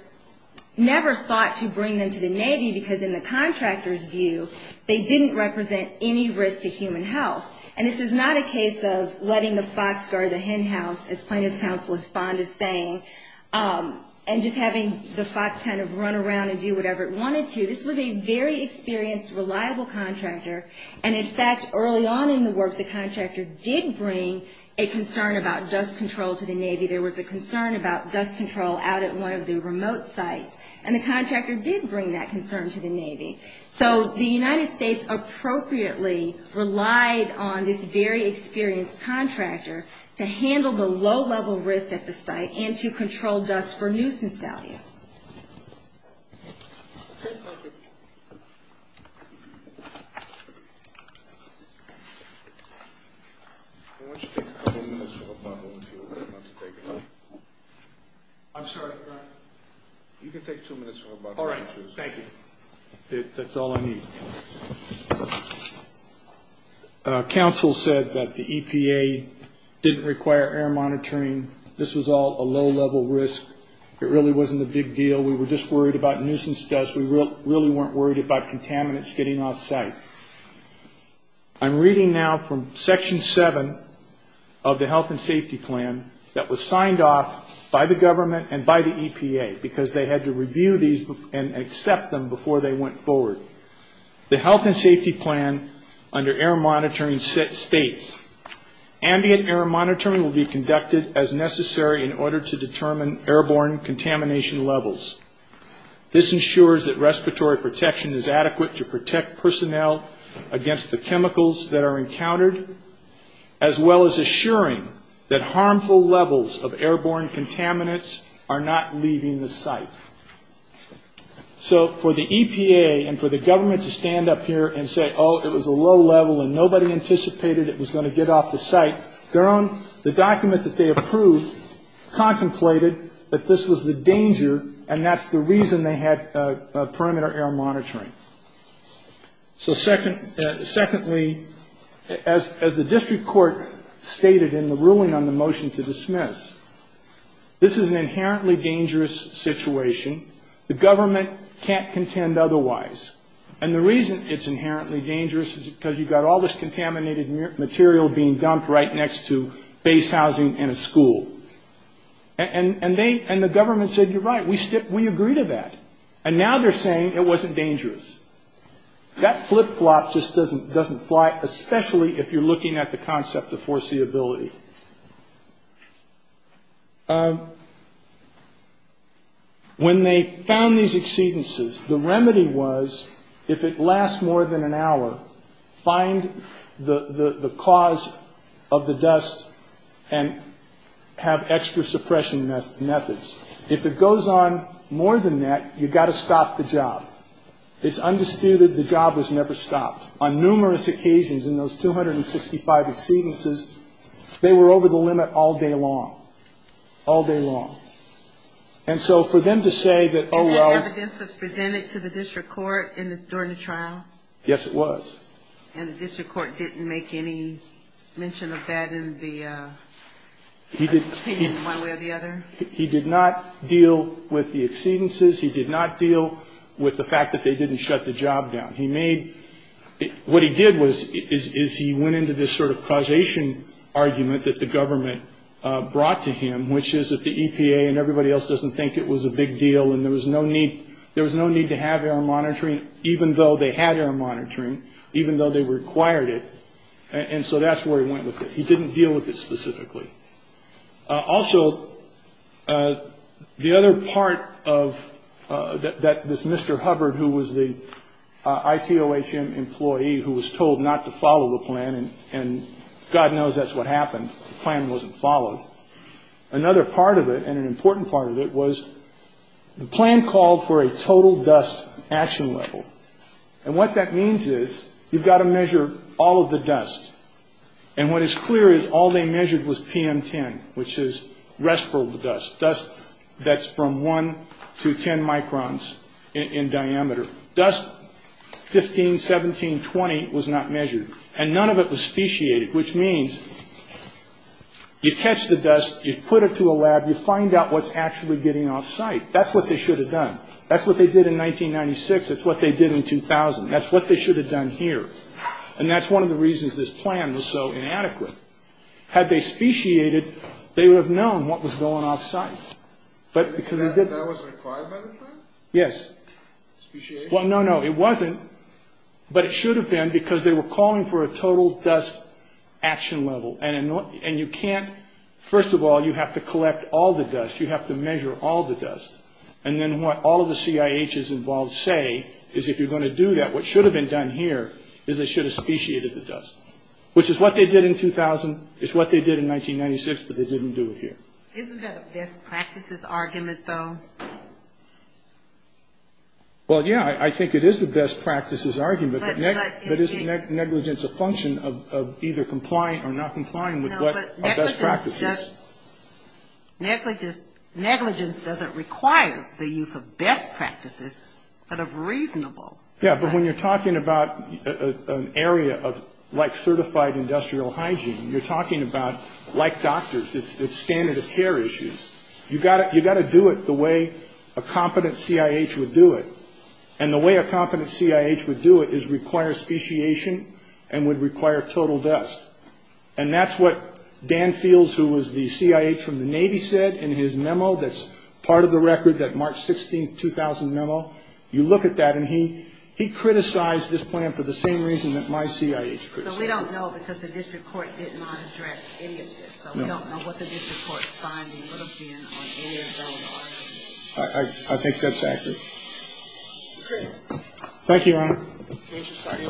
never thought to bring them to the Navy because, in the contractor's view, they didn't represent any risk to human health. And this is not a case of letting the fox guard the hen house, as plaintiff's counsel responded saying, and just having the fox kind of run around and do whatever it wanted to. This was a very experienced, reliable contractor, and, in fact, early on in the work, the contractor did bring a concern about dust control to the Navy. There was a concern about dust control out at one of the remote sites, and the contractor did bring that concern to the Navy. So the United States appropriately relied on this very experienced contractor to handle the low-level risk at the site and to control dust for nuisance value. I'm sorry. You can take two minutes. All right. Thank you. That's all I need. Counsel said that the EPA didn't require air monitoring. This was all a low-level risk. It really wasn't a big deal. We were just worried about nuisance dust. We really weren't worried about contaminants getting off site. I'm reading now from Section 7 of the health and safety plan that was signed off by the government and by the EPA because they had to review these and accept them before they went forward. The health and safety plan under air monitoring states, ambient air monitoring will be conducted as necessary in order to determine airborne contamination levels. This ensures that respiratory protection is adequate to protect personnel against the chemicals that are encountered, as well as assuring that harmful levels of airborne contaminants are not leaving the site. So for the EPA and for the government to stand up here and say, oh, it was a low level and nobody anticipated it was going to get off the site, the document that they approved contemplated that this was the danger and that's the reason they had perimeter air monitoring. So secondly, as the district court stated in the ruling on the motion to dismiss, this is an inherently dangerous situation. The government can't contend otherwise. And the reason it's inherently dangerous is because you've got all this contaminated material being dumped right next to base housing and a school. And the government said, you're right, we agree to that. And now they're saying it wasn't dangerous. That flip-flop just doesn't fly, especially if you're looking at the concept of foreseeability. Thirdly, when they found these exceedances, the remedy was if it lasts more than an hour, find the cause of the dust and have extra suppression methods. If it goes on more than that, you've got to stop the job. It's understood that the job was never stopped. On numerous occasions in those 265 exceedances, they were over the limit all day long. All day long. And so for them to say that, oh, well. The evidence was presented to the district court during the trial? Yes, it was. And the district court didn't make any mention of that in the opinion one way or the other? He did not deal with the exceedances. He did not deal with the fact that they didn't shut the job down. What he did was he went into this sort of causation argument that the government brought to him, which is that the EPA and everybody else doesn't think it was a big deal and there was no need to have air monitoring even though they had air monitoring, even though they required it. And so that's where he went with it. He didn't deal with it specifically. Also, the other part that Mr. Hubbard, who was the ITOHM employee, who was told not to follow the plan, and God knows that's what happened. The plan wasn't followed. Another part of it, and an important part of it, was the plan called for a total dust action level. And what that means is you've got to measure all of the dust. And what is clear is all they measured was PM10, which is respirable dust, dust that's from 1 to 10 microns in diameter. Dust 15, 17, 20 was not measured. And none of it was speciated, which means you catch the dust, you put it to a lab, you find out what's actually getting off site. That's what they should have done. That's what they did in 1996. That's what they did in 2000. That's what they should have done here. And that's one of the reasons this plan was so inadequate. Had they speciated, they would have known what was going off site. That wasn't required by the plan? Yes. Speciation? Well, no, no, it wasn't. But it should have been because they were calling for a total dust action level. And you can't, first of all, you have to collect all the dust. You have to measure all the dust. And then what all the CIHs involved say is if you're going to do that, what should have been done here is they should have speciated the dust, which is what they did in 2000. It's what they did in 1996, but they didn't do it here. Isn't that a best practices argument, though? Well, yeah, I think it is the best practices argument. But isn't negligence a function of either complying or not complying with what a best practice is? Negligence doesn't require the use of best practices, but of reasonable. Yeah, but when you're talking about an area of, like, certified industrial hygiene, you're talking about, like doctors, it's standard of care issues. You've got to do it the way a competent CIH would do it. And the way a competent CIH would do it is require speciation and would require total dust. And that's what Dan Fields, who was the CIH from the Navy, said in his memo that's part of the record, that March 16th, 2000 memo. You look at that, and he criticized this plan for the same reason that my CIH criticized it. So we don't know because the district court did not address any of this. So we don't know what the district court's findings of being on the area zone are. I think that's accurate. Thank you, Your Honor. The case is signed and was not submitted.